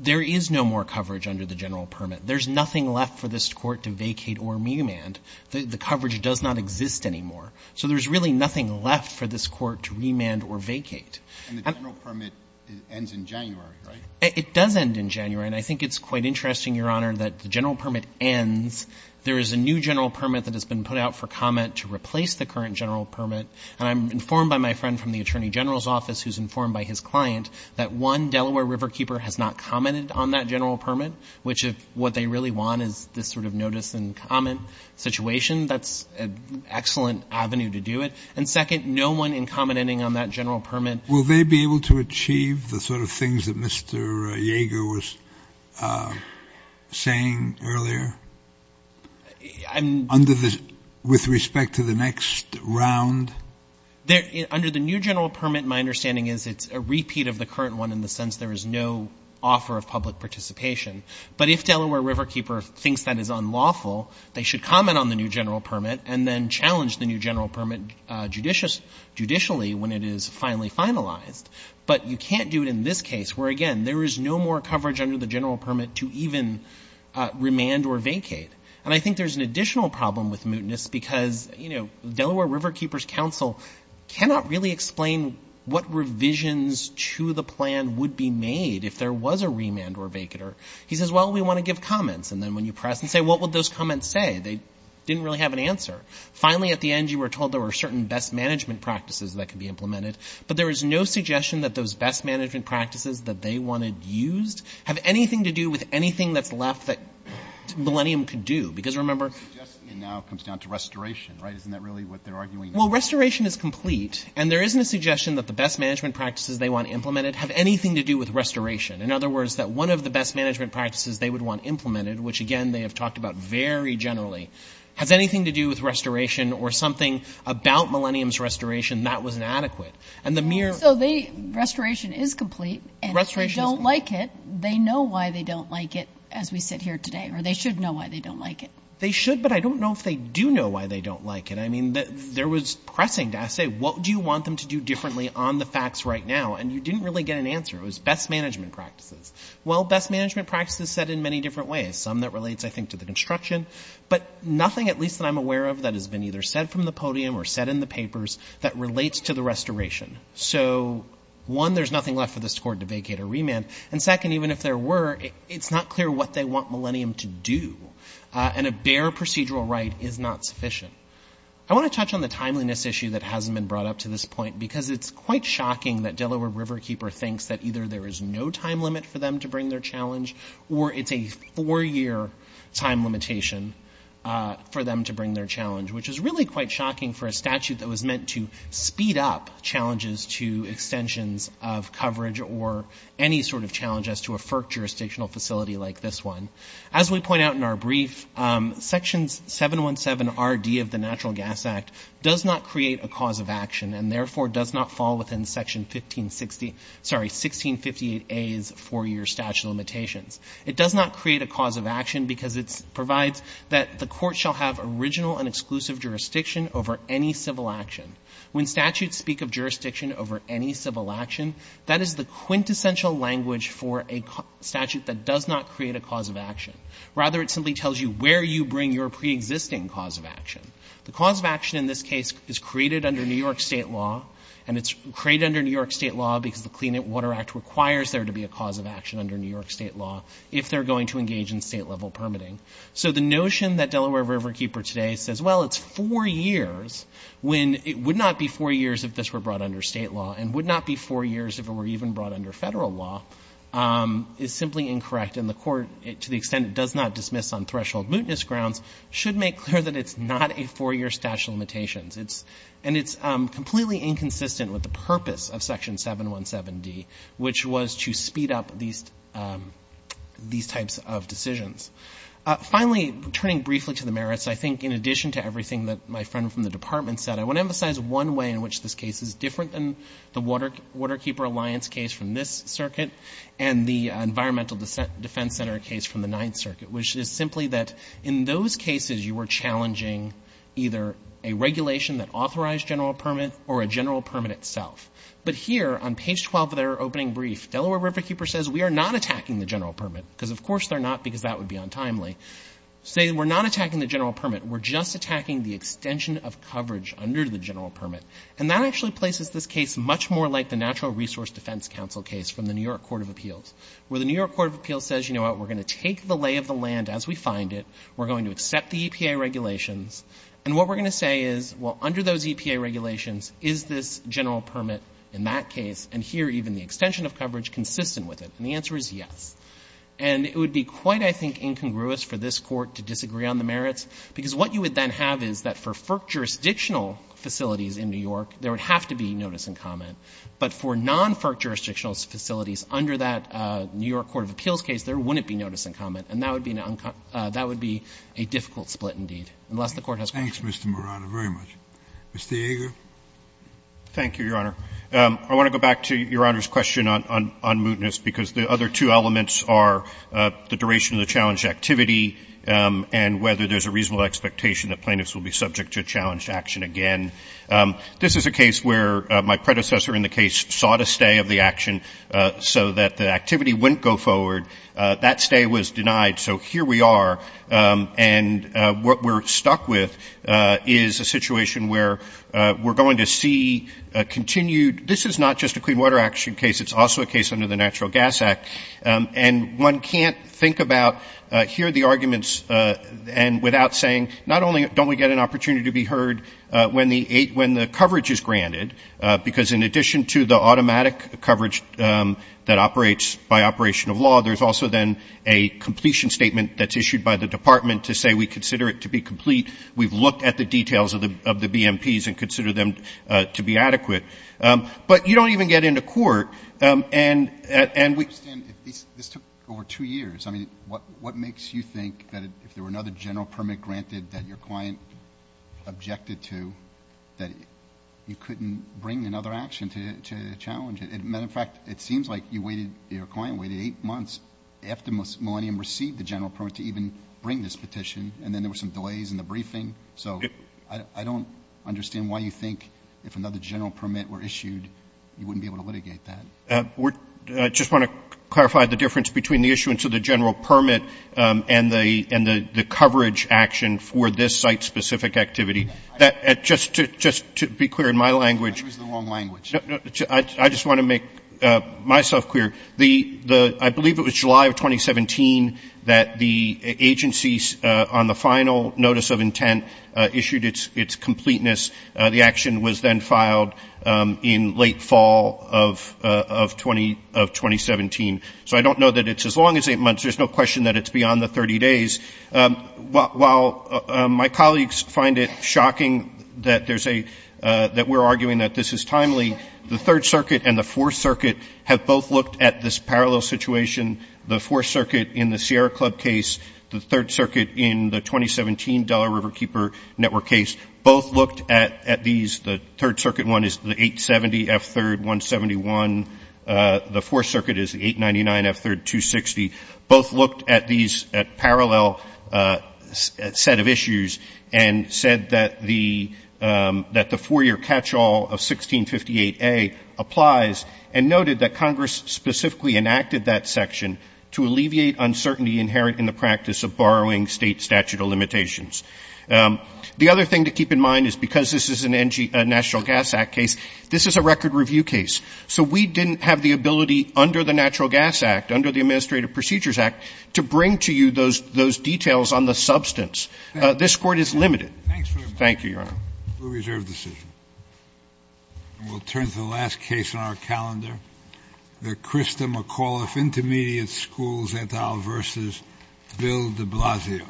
there is no more coverage under the general permit. There's nothing left for this Court to vacate or remand. The coverage does not exist anymore. So there's really nothing left for this Court to remand or vacate. And the general permit ends in January, right? It does end in January, and I think it's quite interesting, Your Honor, that the general permit ends, there is a new general permit that has been put out for comment to replace the current general permit, and I'm informed by my friend from the Attorney General's office who's informed by his client that one, Delaware Riverkeeper has not commented on that general permit, which is what they really want is this sort of notice and comment situation. That's an excellent avenue to do it. And second, no one in commenting on that general permit. Will they be able to achieve the sort of things that Mr. Yeager was saying earlier with respect to the next round? Under the new general permit, my understanding is it's a repeat of the current one in the sense there is no offer of public participation. But if Delaware Riverkeeper thinks that is unlawful, they should comment on the new general permit and then challenge the new general permit judicially when it is finally finalized. But you can't do it in this case where, again, there is no more coverage under the general permit to even remand or vacate. And I think there's an additional problem with mootness because, you know, Delaware Riverkeeper's counsel cannot really explain what revisions to the plan would be made if there was a remand or vacater. He says, well, we want to give comments. And then when you press and say, what would those comments say? They didn't really have an answer. Finally, at the end, you were told there were certain best management practices that could be implemented. But there is no suggestion that those best management practices that they wanted used have anything to do with anything that's left that Millennium could do. Because remember... Suggestion now comes down to restoration, right? Isn't that really what they're arguing? Well, restoration is complete. And there isn't a suggestion that the best management practices they want implemented have anything to do with restoration. In other words, that one of the best management practices they would want implemented, which, again, they have talked about very generally, has anything to do with restoration or something about Millennium's restoration that was inadequate. And the mere... Restoration is complete. And if they don't like it, they know why they don't like it, as we said here today. Or they should know why they don't like it. They should, but I don't know if they do know why they don't like it. I mean, there was pressing. I said, what do you want them to do differently on the facts right now? And you didn't really get an answer. It was best management practices. Well, best management practices said in many different ways. Some that relates, I think, to the construction, but nothing at least that I'm aware of that has been either said from the podium or said in the papers that relates to the restoration. So, one, there's nothing left for this court to vacate or remand. And second, even if there were, it's not clear what they want Millennium to do. And a bare procedural right is not sufficient. I want to touch on the timeliness issue that hasn't been brought up to this point because it's quite shocking that Delaware Riverkeeper thinks that either there is no time limit for them to bring their challenge or it's a four-year time limitation for them to bring their challenge, which is really quite shocking for a statute that was meant to speed up challenges to extensions of coverage or any sort of challenge as to a FERC jurisdictional facility like this one. As we point out in our brief, Section 717RD of the Natural Gas Act does not create a cause of action and therefore does not fall within Section 1658A's four-year statute limitation. It does not create a cause of action because it provides that the court shall have original and exclusive jurisdiction over any civil action. When statutes speak of jurisdiction over any civil action, that is the quintessential language for a statute that does not create a cause of action. Rather, it simply tells you where you bring your preexisting cause of action. The cause of action in this case is created under New York state law and it's created under New York state law because the Clean Water Act requires there to be a cause of action under New York state law if they're going to engage in state-level permitting. So the notion that Delaware Riverkeeper today says, well, it's four years when it would not be four years if this were brought under state law and would not be four years if it were even brought under federal law is simply incorrect and the court, to the extent it does not dismiss on threshold mootness grounds, should make clear that it's not a four-year statute of limitations. And it's completely inconsistent with the purpose of Section 717D, which was to speed up these types of decisions. Finally, returning briefly to the merits, I think in addition to everything that my friend from the Department said, I want to emphasize one way in which this case is different than the Waterkeeper Alliance case from this circuit and the Environmental Defense Center case from the Ninth Circuit, which is simply that in those cases you were challenging either a regulation that authorized general permit or a general permit itself. But here on page 12 of their opening brief, Delaware Riverkeeper says we are not attacking the general permit because of course they're not because that would be untimely. Say we're not attacking the general permit. We're just attacking the extension of coverage under the general permit. And that actually places this case much more like the Natural Resource Defense Council case from the New York Court of Appeals where the New York Court of Appeals says, you know what, we're going to take the lay of the land as we find it. We're going to accept the EPA regulations. And what we're going to say is, well, under those EPA regulations, is this general permit in that case, and here even the extension of coverage consistent with it? And the answer is yes. And it would be quite, I think, incongruous for this Court to disagree on the merits because what you would then have is that for FERC jurisdictional facilities in New York, there would have to be notice and comment. But for non-FERC jurisdictional facilities under that New York Court of Appeals case, there wouldn't be notice and comment. And that would be a difficult split indeed. And the rest of the Court has questions. Thanks, Mr. Marano, very much. Mr. Yeager? Thank you, Your Honor. I want to go back to Your Honor's question on mootness because the other two elements are the duration of the challenged activity and whether there's a reasonable expectation that plaintiffs will be subject to challenged action again. This is a case where my predecessor in the case sought a stay of the action so that the activity wouldn't go forward. That stay was denied, so here we are. And what we're stuck with is a situation where we're going to see a continued this is not just a Clean Water Action case, it's also a case under the Natural Gas Act. And one can't think about here the arguments and without saying not only don't we get an opportunity to be heard when the coverage is granted because in addition to the automatic coverage that operates by operation of law, there's also then a completion statement that's issued by the Department to say we consider it to be complete. We've looked at the details of the BMPs and consider them to be adequate. But you don't even get into court. This took over two years. What makes you think that if there were another general permit granted that your client objected to, that you couldn't bring another action to challenge it? Matter of fact, it seems like your client waited eight months after Millennium received the general permit to even bring this petition, and then there were some delays in the briefing. So I don't understand why you think if another general permit were issued, you wouldn't be able to litigate that. I just want to clarify the difference between the issuance of the general permit and the coverage action for this site-specific activity. Just to be clear in my language, I just want to make myself clear. I believe it was July of 2017 that the agencies on the final notice of intent issued its completeness. The action was then filed in late fall of 2017. So I don't know that it's as long as eight months. There's no question that it's beyond the 30 days. While my colleagues find it shocking that we're arguing that this is timely, the Third Circuit and the Fourth Circuit have both looked at this parallel situation. The Fourth Circuit in the Sierra Club case, the Third Circuit in the 2017 Delaware Riverkeeper Network case both looked at these. The Third Circuit one is the 870F3-171. The Fourth Circuit is the 899F3-260. Both looked at these parallel set of issues and said that the four-year catchall of 1658A applies and noted that Congress specifically enacted that section to alleviate uncertainty inherent in the practice of borrowing state statute of limitations. The other thing to keep in mind is because this is a National Gas Act case, this is a record review case. So we didn't have the ability under the Natural Gas Act, under the Administrative Procedures Act, to bring to you those details on the substance. This court is limited. Thank you, Your Honor. We'll turn to the last case on our calendar. The Krista McAuliffe Intermediate School Zetal v. Bill de Blasio.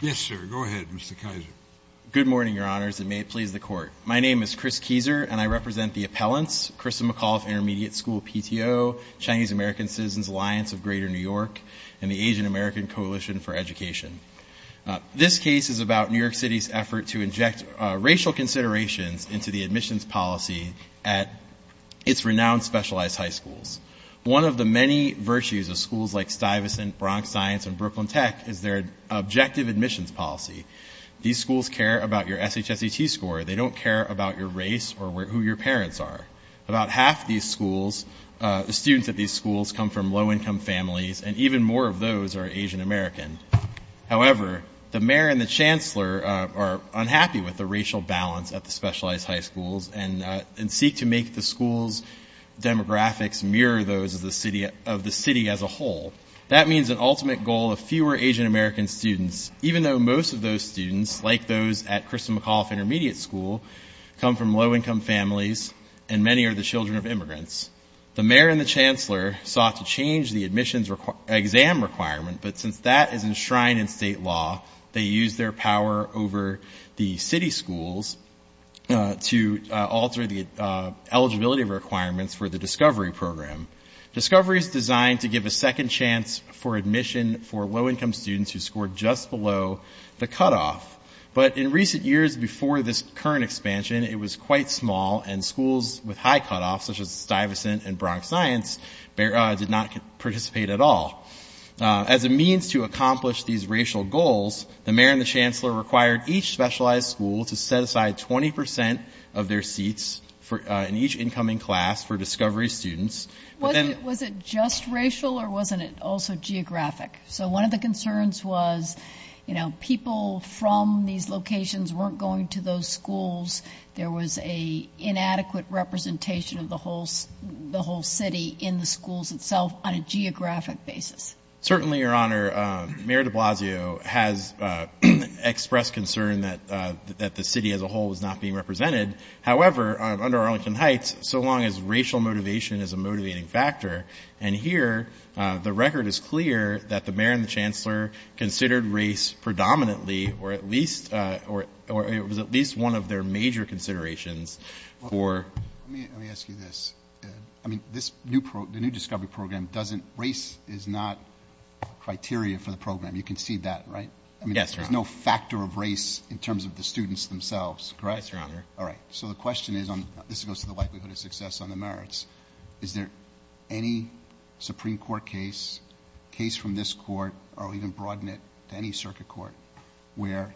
Yes, sir. Go ahead, Mr. Kizer. Good morning, Your Honors, and may it please the Court. My name is Chris Kizer, and I represent the appellants, Krista McAuliffe Intermediate School PTO, Chinese American Citizens Alliance of Greater New York, and the Asian American Coalition for Education. This case is about New York City's effort to inject racial considerations into the admissions policy at its renowned specialized high schools. One of the many virtues of schools like Stuyvesant, Bronx Science, and Brooklyn Tech is their objective admissions policy. These schools care about your SHSET score. They don't care about your race or who your parents are. About half of these schools, the students at these schools, come from low-income families, and even more of those are Asian Americans. However, the mayor and the chancellor are unhappy with the racial balance at the specialized high schools and seek to make the school's demographics mirror those of the city as a whole. That means an ultimate goal of fewer Asian American students, even though most of those students, like those at Krista McAuliffe Intermediate School, come from low-income families and many are the children of immigrants. The mayor and the chancellor sought to change the admissions exam requirement, but since that is enshrined in state law, they used their power over the city schools to alter the eligibility requirements for the Discovery Program. Discovery is designed to give a second chance for admission for low-income students who scored just below the cutoff, but in recent years before this current expansion, it was quite small and schools with high cutoffs, such as Stuyvesant and Bronx Science, did not participate at all. As a means to accomplish these racial goals, the mayor and the chancellor required each specialized school to set aside 20% of their seats in each incoming class for Discovery students. Was it just racial or wasn't it also geographic? So one of the concerns was, you know, people from these locations weren't going to those schools. There was an inadequate representation of the whole city in the schools itself on a geographic basis. Certainly, Your Honor, Mayor de Blasio has expressed concern that the city as a whole is not being represented. However, under Arlington Heights, so long as racial motivation is a motivating factor, and here the record is clear that the mayor and the chancellor considered race predominantly or at least one of their major considerations. Let me ask you this. The new Discovery Program, race is not criteria for the program. You can see that, right? Yes, Your Honor. There's no factor of race in terms of the students themselves, correct? That's right, Your Honor. All right. So the question is, this goes to the likelihood of success on the merits, is there any Supreme Court case, case from this court, or even broaden it to any circuit court, where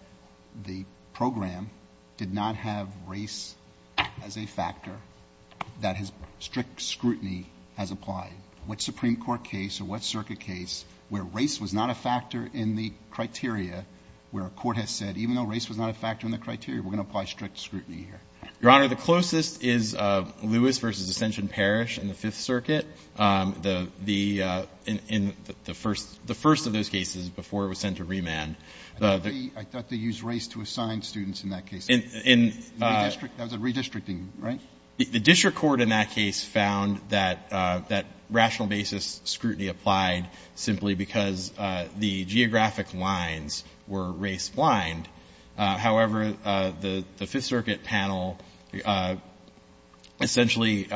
the program did not have race as a factor that strict scrutiny has applied? What Supreme Court case or what circuit case where race was not a factor in the criteria, where a court has said, even though race was not a factor in the criteria, we're going to apply strict scrutiny here? Your Honor, the closest is Lewis v. Ascension Parish in the Fifth Circuit. The first of those cases before it was sent to remand. I thought they used race to assign students in that case. That was a redistricting, right? The district court in that case found that rational basis scrutiny applied simply because the geographic lines were race-blind. However, the Fifth Circuit panel essentially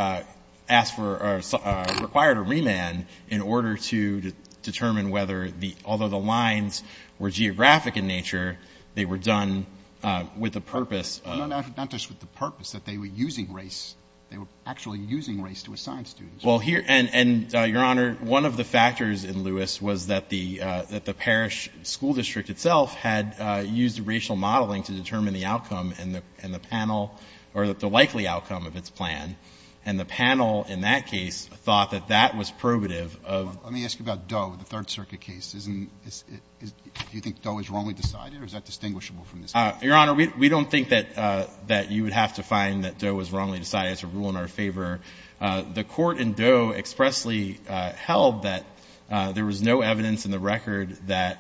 required a remand in order to determine whether, although the lines were geographic in nature, they were done with a purpose. They were done with the purpose that they were using race. They were actually using race to assign students. Your Honor, one of the factors in Lewis was that the parish school district itself had used racial modeling to determine the outcome and the panel, or the likely outcome of its plan. And the panel in that case thought that that was probative. Let me ask you about Doe, the Third Circuit case. Do you think Doe was wrongly decided, or is that distinguishable from this case? Your Honor, we don't think that you would have to find that Doe was wrongly decided to rule in our favor. The court in Doe expressly held that there was no evidence in the record that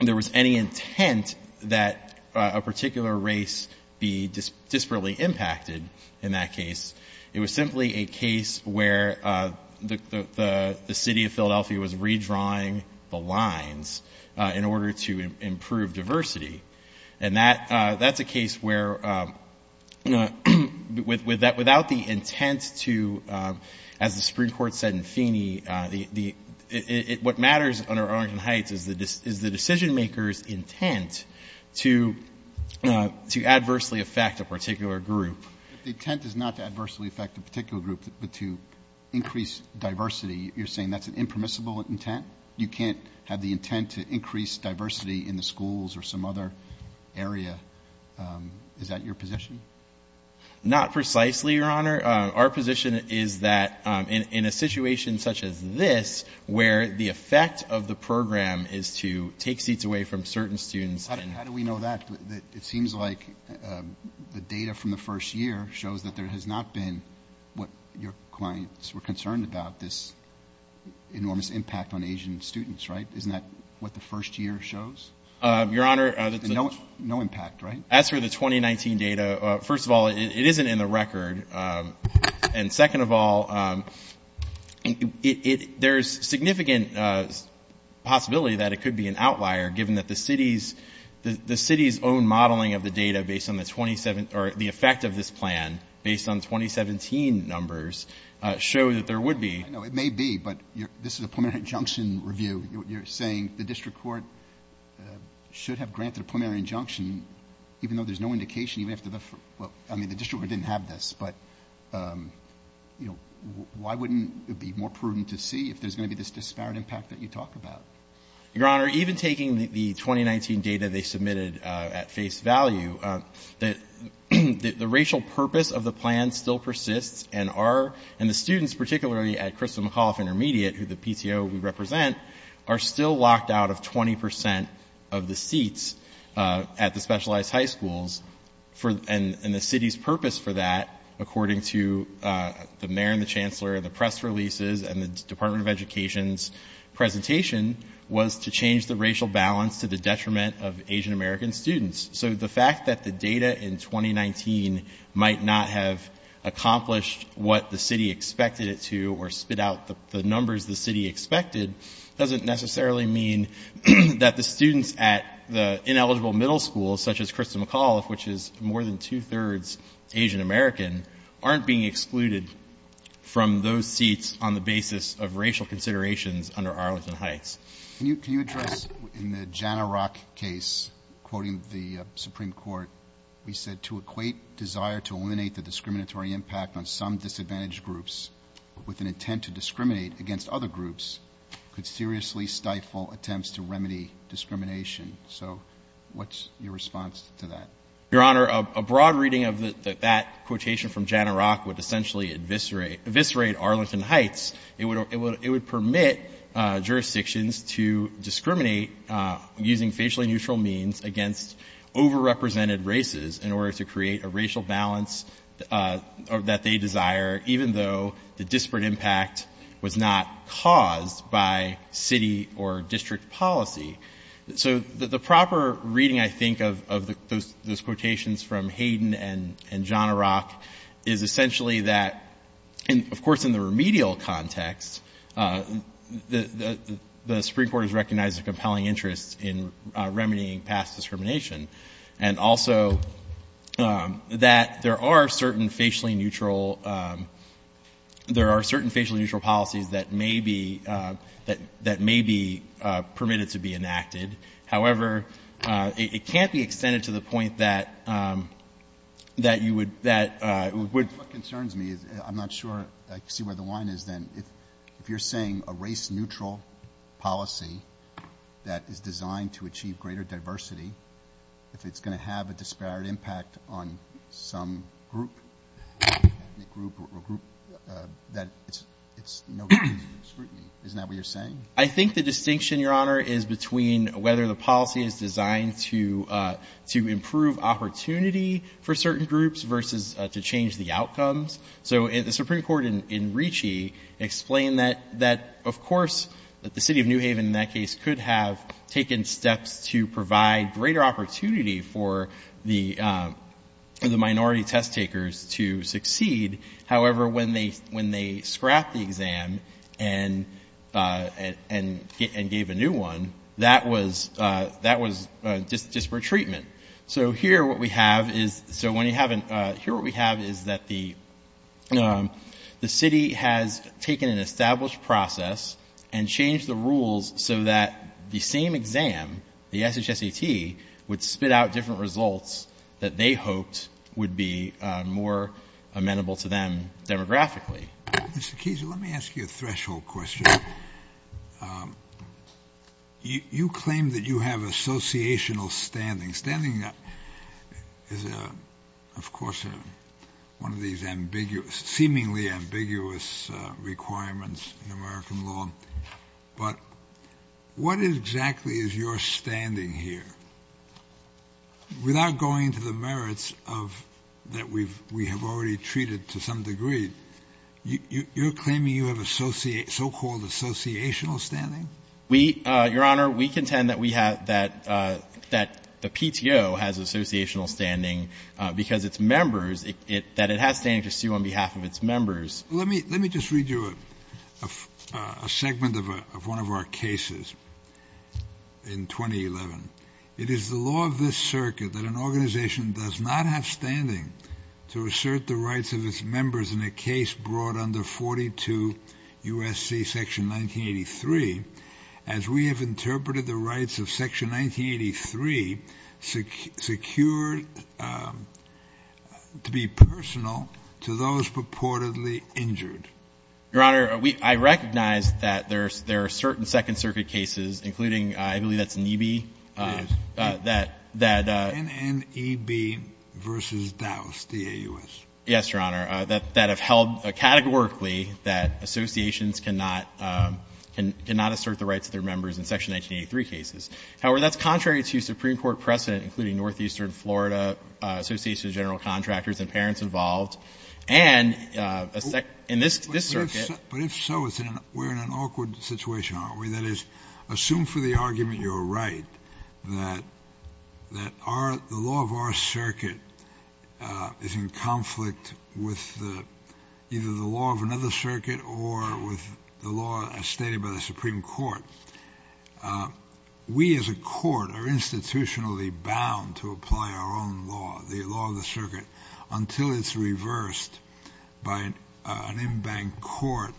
there was any intent that a particular race be disparately impacted in that case. It was simply a case where the city of Philadelphia was redrawing the lines in order to improve diversity. And that's a case where without the intent to, as the Supreme Court said in Feeney, what matters under Arlington Heights is the decision maker's intent to adversely affect a particular group. The intent is not to adversely affect a particular group, but to increase diversity. You're saying that's an impermissible intent? You can't have the intent to increase diversity in the schools or some other area? Is that your position? Not precisely, Your Honor. Our position is that in a situation such as this, where the effect of the program is to take seats away from certain students. How do we know that? It seems like the data from the first year shows that there has not been, what your clients were concerned about, this enormous impact on Asian students, right? Isn't that what the first year shows? Your Honor, No impact, right? As for the 2019 data, first of all, it isn't in the record. And second of all, there's significant possibility that it could be an outlier, given that the city's own modeling of the data based on the effect of this plan, based on 2017 numbers, shows that there would be. I know it may be, but this is a preliminary injunction review. You're saying the district court should have granted a preliminary injunction, even though there's no indication you have to look for it. I mean, the district didn't have this, but why wouldn't it be more prudent to see if there's going to be this disparate impact that you talk about? Your Honor, even taking the 2019 data they submitted at face value, the racial purpose of the plan still persists, and the students, particularly at Kristen McAuliffe Intermediate, who the PTO we represent, are still locked out of 20% of the seats at the specialized high schools. And the city's purpose for that, according to the mayor and the chancellor and the press releases and the Department of Education's presentation, was to change the racial balance to the detriment of Asian American students. So the fact that the data in 2019 might not have accomplished what the city expected it to or spit out the numbers the city expected, doesn't necessarily mean that the students at the ineligible middle schools, such as Kristen McAuliffe, which is more than two-thirds Asian American, aren't being excluded from those seats on the basis of racial considerations under Arlington Heights. Can you address, in the Jana Rock case, quoting the Supreme Court, you said, So what's your response to that? Your Honor, a broad reading of that quotation from Jana Rock would essentially eviscerate Arlington Heights. It would permit jurisdictions to discriminate using facially neutral means against overrepresented races in order to create a racial balance that they desire, even though the disparate impact was not caused by city or district policy. So the proper reading, I think, of those quotations from Hayden and Jana Rock, is essentially that, of course, in the remedial context, the Supreme Court has recognized a compelling interest in remedying past discrimination and also that there are certain facially neutral policies that may be permitted to be enacted. However, it can't be extended to the point that you would... What concerns me, I'm not sure I see where the line is then. If you're saying a race-neutral policy that is designed to achieve greater diversity, if it's going to have a disparate impact on some group, a group or a group, that it's no way to discriminate. Isn't that what you're saying? I think the distinction, Your Honor, is between whether the policy is designed to improve opportunity for certain groups versus to change the outcomes. So the Supreme Court in Ricci explained that, of course, the city of New Haven in that case could have taken steps to provide greater opportunity for the minority test takers to succeed. However, when they scrapped the exam and gave a new one, that was disparate treatment. So here what we have is that the city has taken an established process and changed the rules so that the same exam, the SHSET, would spit out different results that they hoped would be more amenable to them demographically. Mr. Keyes, let me ask you a threshold question. You claim that you have associational standing. Standing is, of course, one of these ambiguous, seemingly ambiguous requirements in American law, but what exactly is your standing here? Without going to the merits that we have already treated to some degree, you're claiming you have so-called associational standing? Your Honor, we contend that the PTO has associational standing because its members, that it has standing to sue on behalf of its members. Let me just read you a segment of one of our cases in 2011. It is the law of this circuit that an organization does not have standing to assert the rights of its members in a case brought under 42 U.S.C. section 1983 as we have interpreted the rights of section 1983 secured to be personal to those purportedly injured. Your Honor, I recognize that there are certain Second Circuit cases, including, I believe that's NEB. NNEB v. Dowse, D-A-U-S. Yes, Your Honor, that have held categorically that associations cannot assert the rights of their members in section 1983 cases. However, that's contrary to Supreme Court precedent, including Northeastern Florida, Associations of General Contractors, and parents involved, and in this circuit— But if so, we're in an awkward situation, aren't we? That is, assume for the argument you're right that the law of our circuit is in conflict with either the law of another circuit or with the law as stated by the Supreme Court. We as a court are institutionally bound to apply our own law, the law of the circuit, until it's reversed by an in-bank court,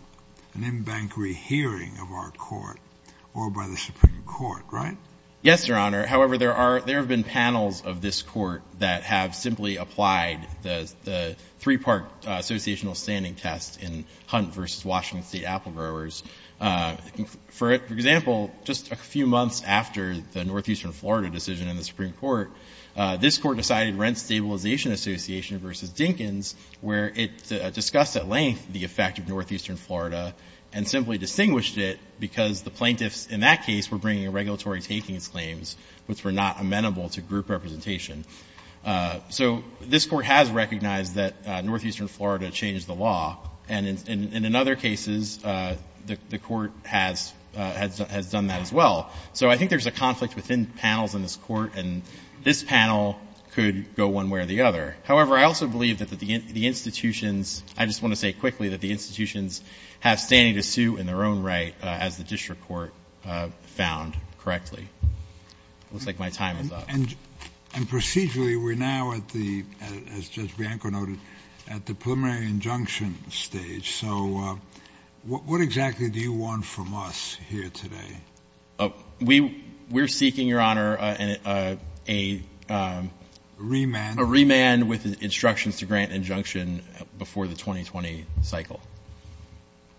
an in-bank rehearing of our court, or by the Supreme Court, right? Yes, Your Honor. However, there have been panels of this court that have simply applied the three-part associational standing test in Hunt v. Washington State Apple Growers. For example, just a few months after the Northeastern Florida decision in the Supreme Court, this court decided Rent Stabilization Association v. Dinkins, where it discussed at length the effect of Northeastern Florida, and simply distinguished it because the plaintiffs in that case were bringing regulatory casings claims which were not amenable to group representation. So this court has recognized that Northeastern Florida changed the law, and in other cases, the court has done that as well. So I think there's a conflict within panels in this court, and this panel could go one way or the other. However, I also believe that the institutions, I just want to say quickly that the institutions have standing to sue in their own right, as the district court found correctly. Looks like my time is up. And procedurally, we're now at the, as Judge Bianco noted, at the preliminary injunction stage. So what exactly do you want from us here today? We're seeking, Your Honor, a remand with instructions to grant injunction before the 2020 cycle.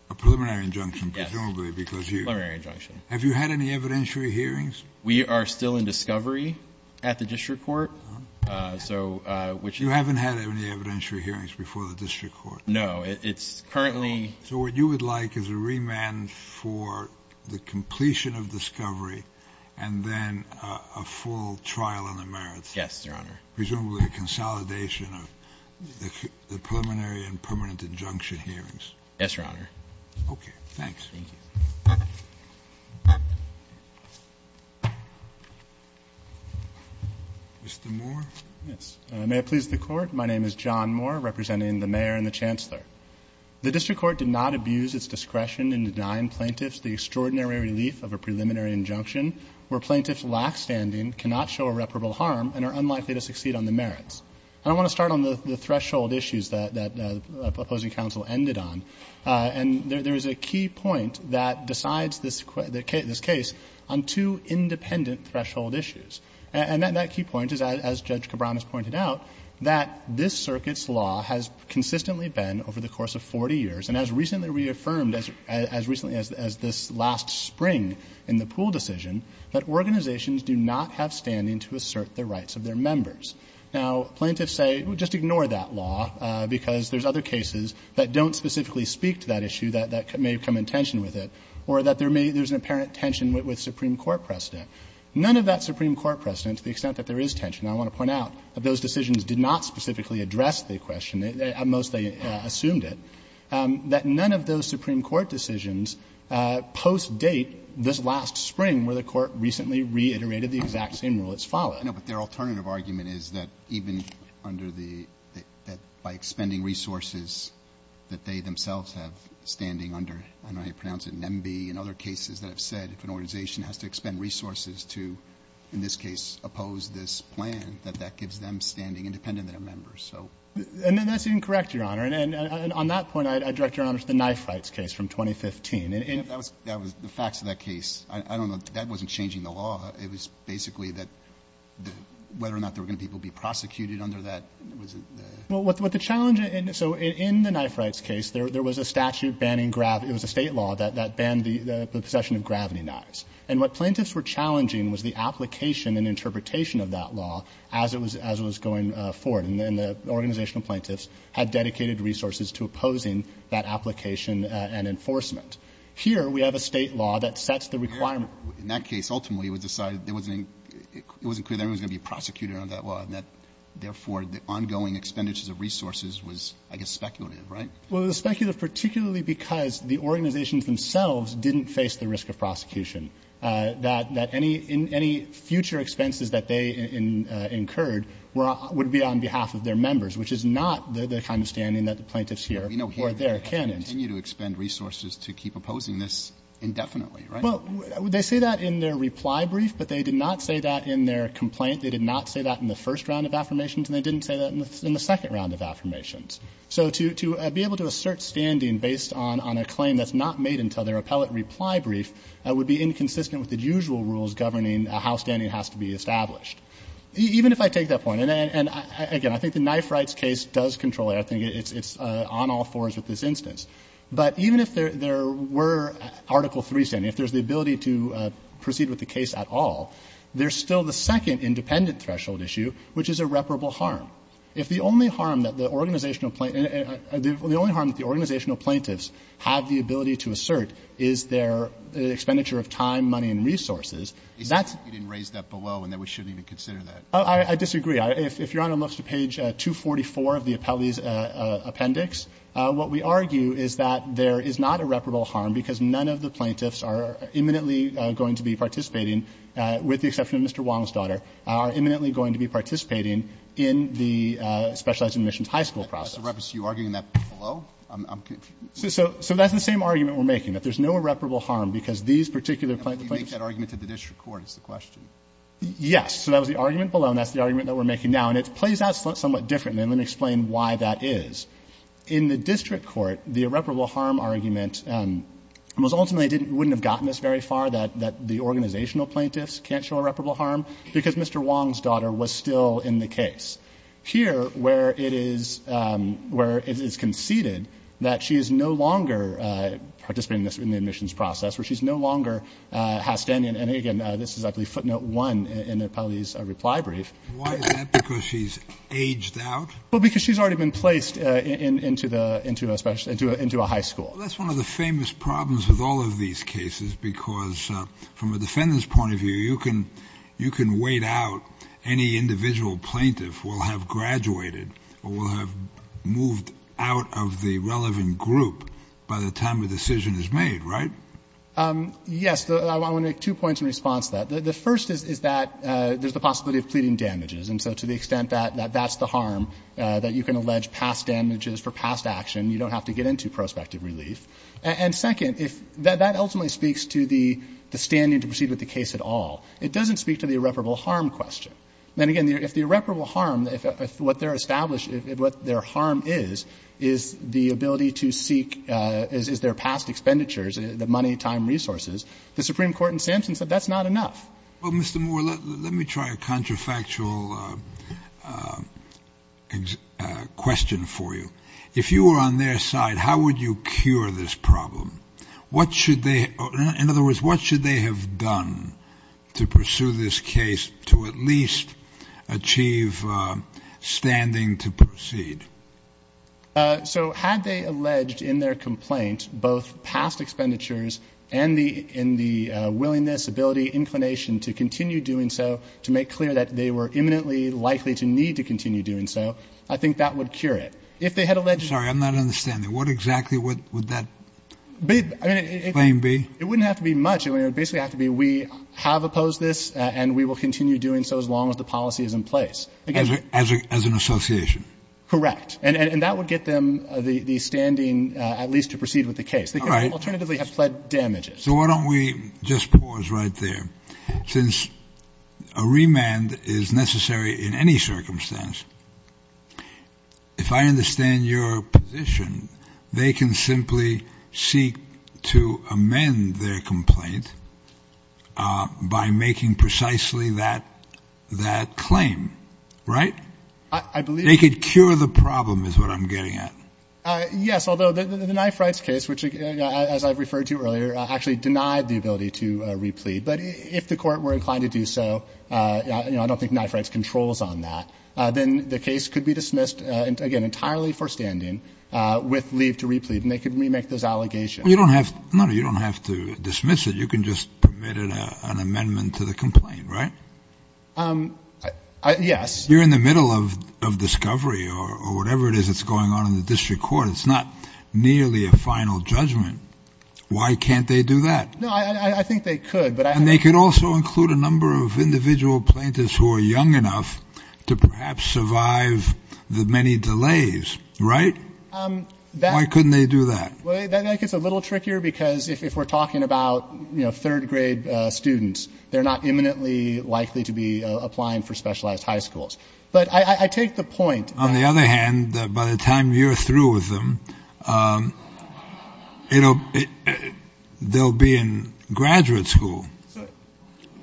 A preliminary injunction, presumably, because you have you had any evidentiary hearings? We are still in discovery at the district court. You haven't had any evidentiary hearings before the district court? No, it's currently. So what you would like is a remand for the completion of discovery and then a full trial in the merits? Yes, Your Honor. Presumably a consolidation of the preliminary and permanent injunction hearings? Yes, Your Honor. Okay, thanks. Mr. Moore? May it please the court. My name is John Moore, representing the mayor and the chancellor. The district court did not abuse its discretion in denying plaintiffs the extraordinary relief of a preliminary injunction where plaintiffs' lack standing cannot show irreparable harm and are unlikely to succeed on the merits. I want to start on the threshold issues that the opposing counsel ended on. And there is a key point that decides this case on two independent threshold issues. And that key point is, as Judge Cabran has pointed out, that this circuit's law has consistently been over the course of 40 years, and as recently reaffirmed as this last spring in the Poole decision, that organizations do not have standing to assert the rights of their members. Now, plaintiffs say, well, just ignore that law because there's other cases that don't specifically speak to that issue that may come in tension with it or that there's an apparent tension with Supreme Court precedent. None of that Supreme Court precedent, to the extent that there is tension, I want to point out that those decisions did not specifically address the question. At most, they assumed it. But none of those Supreme Court decisions post-date this last spring where the court recently reiterated the exact same rule that's followed. No, but their alternative argument is that even under the – that by expending resources that they themselves have standing under – that the organization has to expend resources to, in this case, oppose this plan, that that gives them standing independent of their members. And that's incorrect, Your Honor. And on that point, I direct Your Honor to the knife rights case from 2015. That was – the facts of that case, I don't know – that wasn't changing the law. It was basically that whether or not there were going to be people prosecuted under that. Well, what the challenge – so in the knife rights case, there was a statute banning – it was a state law that banned the possession of gravity knives. And what plaintiffs were challenging was the application and interpretation of that law as it was going forward. And then the organization of plaintiffs had dedicated resources to opposing that application and enforcement. Here, we have a state law that sets the requirement. In that case, ultimately, it was decided – it wasn't clear that everyone was going to be prosecuted under that law. And that, therefore, the ongoing expenditures of resources was, I guess, speculative, right? Well, it was speculative particularly because the organizations themselves didn't face the risk of prosecution. That any future expenses that they incurred would be on behalf of their members, which is not their understanding that the plaintiffs here were their candidates. They continue to expend resources to keep opposing this indefinitely, right? Well, they say that in their reply brief, but they did not say that in their complaint. They did not say that in the first round of affirmations, and they didn't say that in the second round of affirmations. So to be able to assert standing based on a claim that's not made until their appellate reply brief would be inconsistent with the usual rules governing how standing has to be established. Even if I take that point – and, again, I think the Knife Rights case does control it. I think it's on all fours with this instance. But even if there were Article III standing, if there's the ability to proceed with the case at all, there's still the second independent threshold issue, which is irreparable harm. If the only harm that the organizational plaintiffs have the ability to assert is their expenditure of time, money, and resources, that's – You didn't raise that below, and then we shouldn't even consider that. I disagree. If you're on a look at page 244 of the appellate's appendix, what we argue is that there is not irreparable harm because none of the plaintiffs are imminently going to be participating, with the exception of Mr. Wallen's daughter, are imminently going to be participating in the Specialized Admissions High School process. So you're arguing that below? So that's the same argument we're making, that there's no irreparable harm because these particular plaintiffs – How do you make that argument to the district court is the question? Yes, so that was the argument below, and that's the argument that we're making now. And it plays out somewhat differently, and I'm going to explain why that is. In the district court, the irreparable harm argument was ultimately – wouldn't have gotten us very far, that the organizational plaintiffs can't show irreparable harm because Mr. Wallen's daughter was still in the case. Here, where it is conceded that she is no longer participating in the admissions process, where she no longer has to end in – and again, this is, I believe, footnote one in the appellate's reply brief. Why is that? Because she's aged out? Well, because she's already been placed into a high school. Well, that's one of the famous problems of all of these cases because from a defendant's point of view, you can wait out. Any individual plaintiff will have graduated or will have moved out of the relevant group by the time a decision is made, right? Yes, I want to make two points in response to that. The first is that there's the possibility of pleading damages, and so to the extent that that's the harm, that you can allege past damages for past action. You don't have to get into prospective relief. And second, that ultimately speaks to the standing to proceed with the case at all. It doesn't speak to the irreparable harm question. And again, if the irreparable harm, what their harm is, is the ability to seek – is their past expenditures, the money, time, resources, the Supreme Court in Sampson said that's not enough. Well, Mr. Moore, let me try a counterfactual question for you. If you were on their side, how would you cure this problem? In other words, what should they have done to pursue this case to at least achieve standing to proceed? So had they alleged in their complaint both past expenditures and the willingness, ability, inclination to continue doing so, to make clear that they were imminently likely to need to continue doing so, I think that would cure it. If they had alleged – Sorry, I'm not understanding. What exactly would that claim be? It wouldn't have to be much. It would basically have to be we have opposed this and we will continue doing so as long as the policy is in place. As an association. Correct. And that would get them the standing at least to proceed with the case. They could alternatively have fled damages. So why don't we just pause right there. Since a remand is necessary in any circumstance, if I understand your position, they can simply seek to amend their complaint by making precisely that claim, right? I believe – They could cure the problem is what I'm getting at. Yes, although the knife rights case, which, as I referred to earlier, actually denied the ability to replead. But if the court were inclined to do so, I don't think knife rights controls on that. Then the case could be dismissed, again, entirely for standing with leave to replead. And they could remake those allegations. You don't have to dismiss it. You can just permit an amendment to the complaint, right? Yes. You're in the middle of discovery or whatever it is that's going on in the district court. It's not nearly a final judgment. Why can't they do that? No, I think they could. And they could also include a number of individual plaintiffs who are young enough to perhaps survive the many delays, right? Why couldn't they do that? I think it's a little trickier because if we're talking about, you know, third grade students, they're not imminently likely to be applying for specialized high schools. But I take the point, on the other hand, that by the time you're through with them, you know, they'll be in graduate school.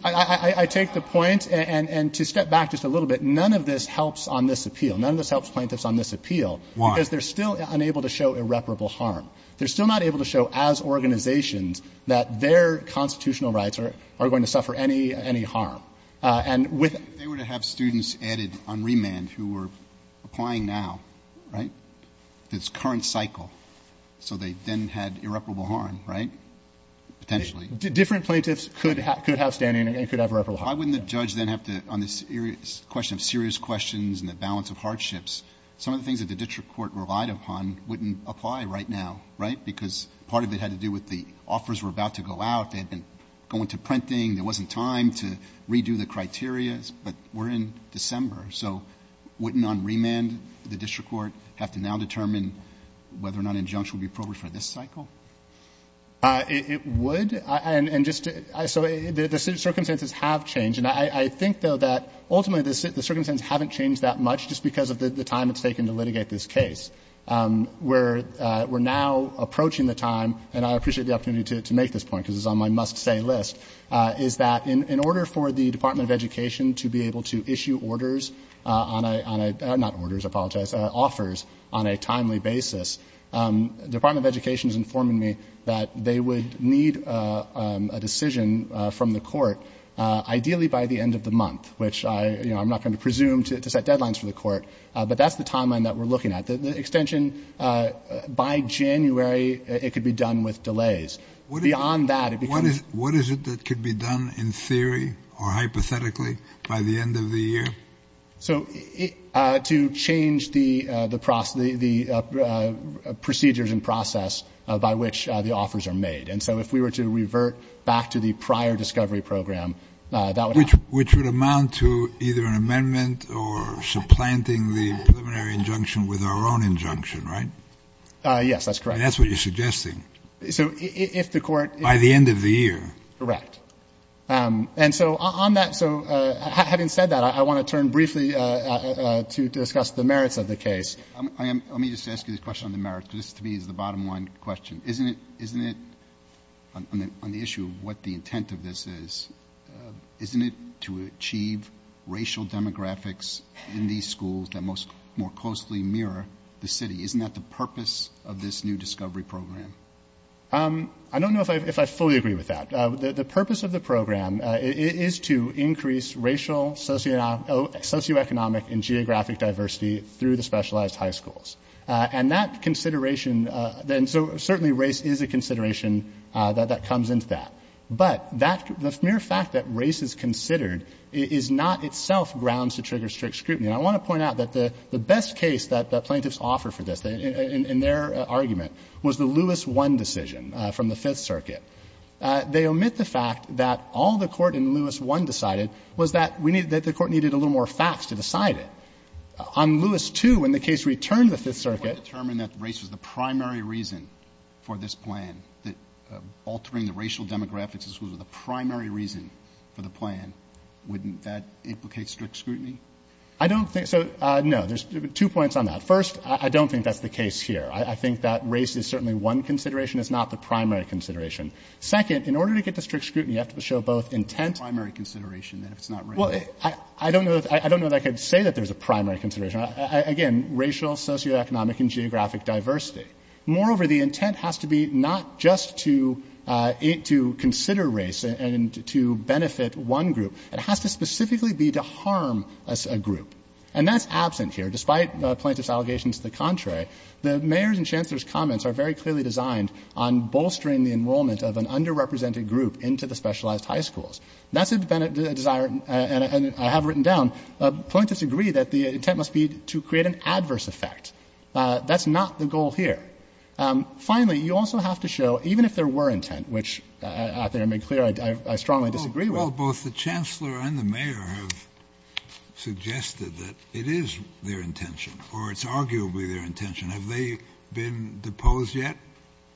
I take the point and to step back just a little bit. None of this helps on this appeal. None of this helps plaintiffs on this appeal. Why is there still unable to show irreparable harm? They're still not able to show as organizations that their constitutional rights are going to suffer any any harm. They were to have students added on remand who were applying now, right? In its current cycle. So they then had irreparable harm, right? Potentially. Different plaintiffs could have standing and they could have irreparable harm. Why wouldn't a judge then have to, on the question of serious questions and the balance of hardships, some of the things that the district court relied upon wouldn't apply right now, right? Because part of it had to do with the offers were about to go out. They had been going to printing. There wasn't time to redo the criteria. But we're in December. So wouldn't on remand the district court have to now determine whether or not injunctions would be appropriate for this cycle? It would. And so the circumstances have changed. And I think, though, that ultimately the circumstances haven't changed that much just because of the time it's taken to litigate this case. We're now approaching the time, and I appreciate the opportunity to make this point because it's on my must-say list, is that in order for the Department of Education to be able to issue offers on a timely basis, the Department of Education is informing me that they would need a decision from the court ideally by the end of the month, which I'm not going to presume to set deadlines for the court, but that's the timeline that we're looking at. The extension by January, it could be done with delays. What is it that could be done in theory or hypothetically by the end of the year? So to change the procedures and process by which the offers are made. And so if we were to revert back to the prior discovery program, that would happen. Which would amount to either an amendment or supplanting the preliminary injunction with our own injunction, right? Yes, that's correct. That's what you're suggesting. So if the court- By the end of the year. Correct. And so on that, so having said that, I want to turn briefly to discuss the merits of the case. Let me just ask you this question on the merits. This, to me, is the bottom line question. Isn't it, on the issue of what the intent of this is, isn't it to achieve racial demographics in these schools that more closely mirror the city? Isn't that the purpose of this new discovery program? I don't know if I fully agree with that. The purpose of the program is to increase racial, socioeconomic, and geographic diversity through the specialized high schools. And that consideration, then, so certainly race is a consideration that comes into that. But the mere fact that race is considered is not itself grounds to trigger strict scrutiny. And I want to point out that the best case that the plaintiffs offer for this, in their argument, was the Lewis I decision from the Fifth Circuit. They omit the fact that all the court in Lewis I decided was that the court needed a little more facts to decide it. On Lewis II, when the case returned to the Fifth Circuit- If the court determined that race was the primary reason for this plan, that altering the racial demographics was the primary reason for the plan, wouldn't that implicate strict scrutiny? I don't think- so, no, there's two points on that. First, I don't think that's the case here. I think that race is certainly one consideration. It's not the primary consideration. Second, in order to get to strict scrutiny, you have to show both intent- It's the primary consideration. Well, I don't know that I could say that there's a primary consideration. Again, racial, socioeconomic, and geographic diversity. Moreover, the intent has to be not just to consider race and to benefit one group. It has to specifically be to harm a group. And that's absent here. Despite Plaintiff's allegation to the contrary, the mayor's and chancellor's comments are very clearly designed on bolstering the enrollment of an underrepresented group into the specialized high schools. That's a desire- and I have written down- Plaintiff's agreed that the intent must be to create an adverse effect. That's not the goal here. Finally, you also have to show, even if there were intent, which, after I made clear, I strongly disagree with- The chancellor and the mayor have suggested that it is their intention, or it's arguably their intention. Have they been deposed yet?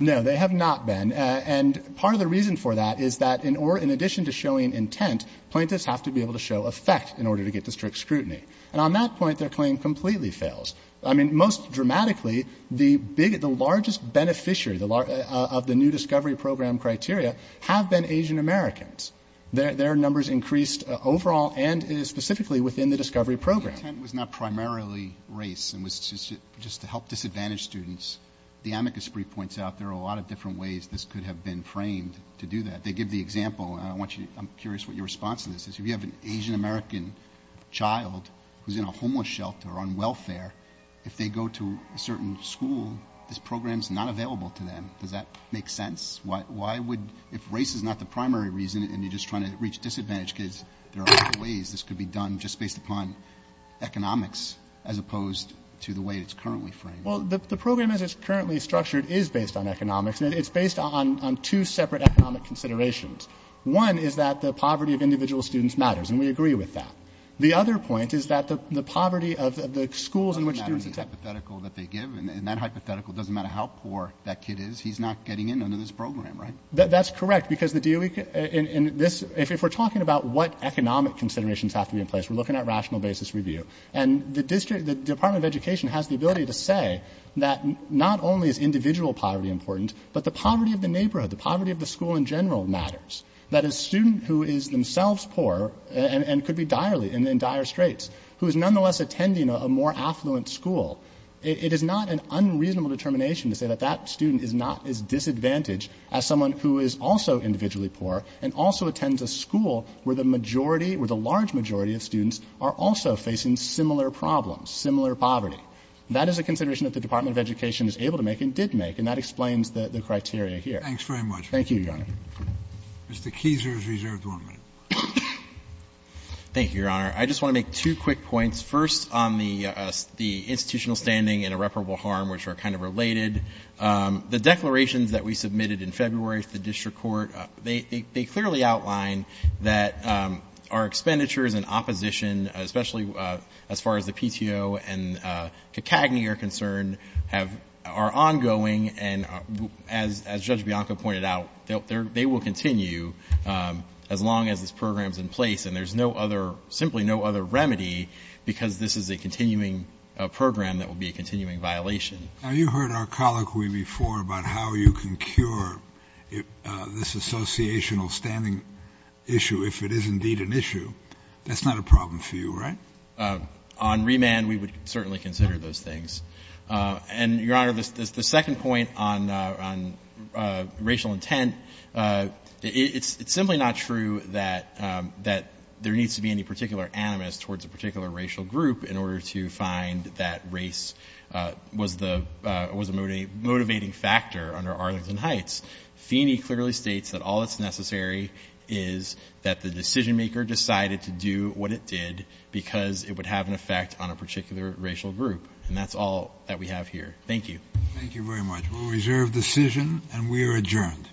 No, they have not been. And part of the reason for that is that, in addition to showing intent, plaintiffs have to be able to show effect in order to get to strict scrutiny. And on that point, their claim completely fails. I mean, most dramatically, the largest beneficiary of the new discovery program criteria have been Asian Americans. Their numbers increased overall, and it is specifically within the discovery program. The intent was not primarily race. It was just to help disadvantaged students. The amicus brief points out there are a lot of different ways this could have been framed to do that. They give the example, and I'm curious what your response to this is. If you have an Asian American child who's in a homeless shelter on welfare, if they go to a certain school, this program's not available to them. Does that make sense? If race is not the primary reason and you're just trying to reach disadvantaged kids, there are other ways. This could be done just based upon economics as opposed to the way it's currently framed. Well, the program as it's currently structured is based on economics, and it's based on two separate economic considerations. One is that the poverty of individual students matters, and we agree with that. The other point is that the poverty of the schools in which students attend. And that hypothetical that they give, and that hypothetical doesn't matter how poor that kid is. He's not getting into this program, right? That's correct, because if we're talking about what economic considerations have to be in place, we're looking at rational basis review. And the Department of Education has the ability to say that not only is individual poverty important, but the poverty of the neighborhood, the poverty of the school in general matters. That a student who is themselves poor and could be direly in dire straits, who is nonetheless attending a more affluent school, it is not an unreasonable determination to say that that student is not as disadvantaged as someone who is also individually poor and also attends a school where the majority, where the large majority of students are also facing similar problems, similar poverty. That is a consideration that the Department of Education is able to make and did make, and that explains the criteria here. Thanks very much. Thank you, Your Honor. Thank you, Your Honor. I just want to make two quick points. First, on the institutional standing and irreparable harm, which are kind of related, the declarations that we submitted in February to the district court, they clearly outline that our expenditures and opposition, especially as far as the PTO and CACAGNY are concerned, are ongoing. And as Judge Bianco pointed out, they will continue as long as this program is in place and there's simply no other remedy because this is a continuing program that will be a continuing violation. Now, you heard our colloquy before about how you can cure this associational standing issue if it is indeed an issue. That's not a problem for you, right? On remand, we would certainly consider those things. And, Your Honor, the second point on racial intent, it's simply not true that there needs to be any particular animus towards a particular racial group in order to find that race was a motivating factor under Arlington Heights. Feeney clearly states that all that's necessary is that the decision maker decided to do what it did because it would have an effect on a particular racial group. And that's all that we have here. Thank you. Thank you very much. We'll reserve the decision and we are adjourned.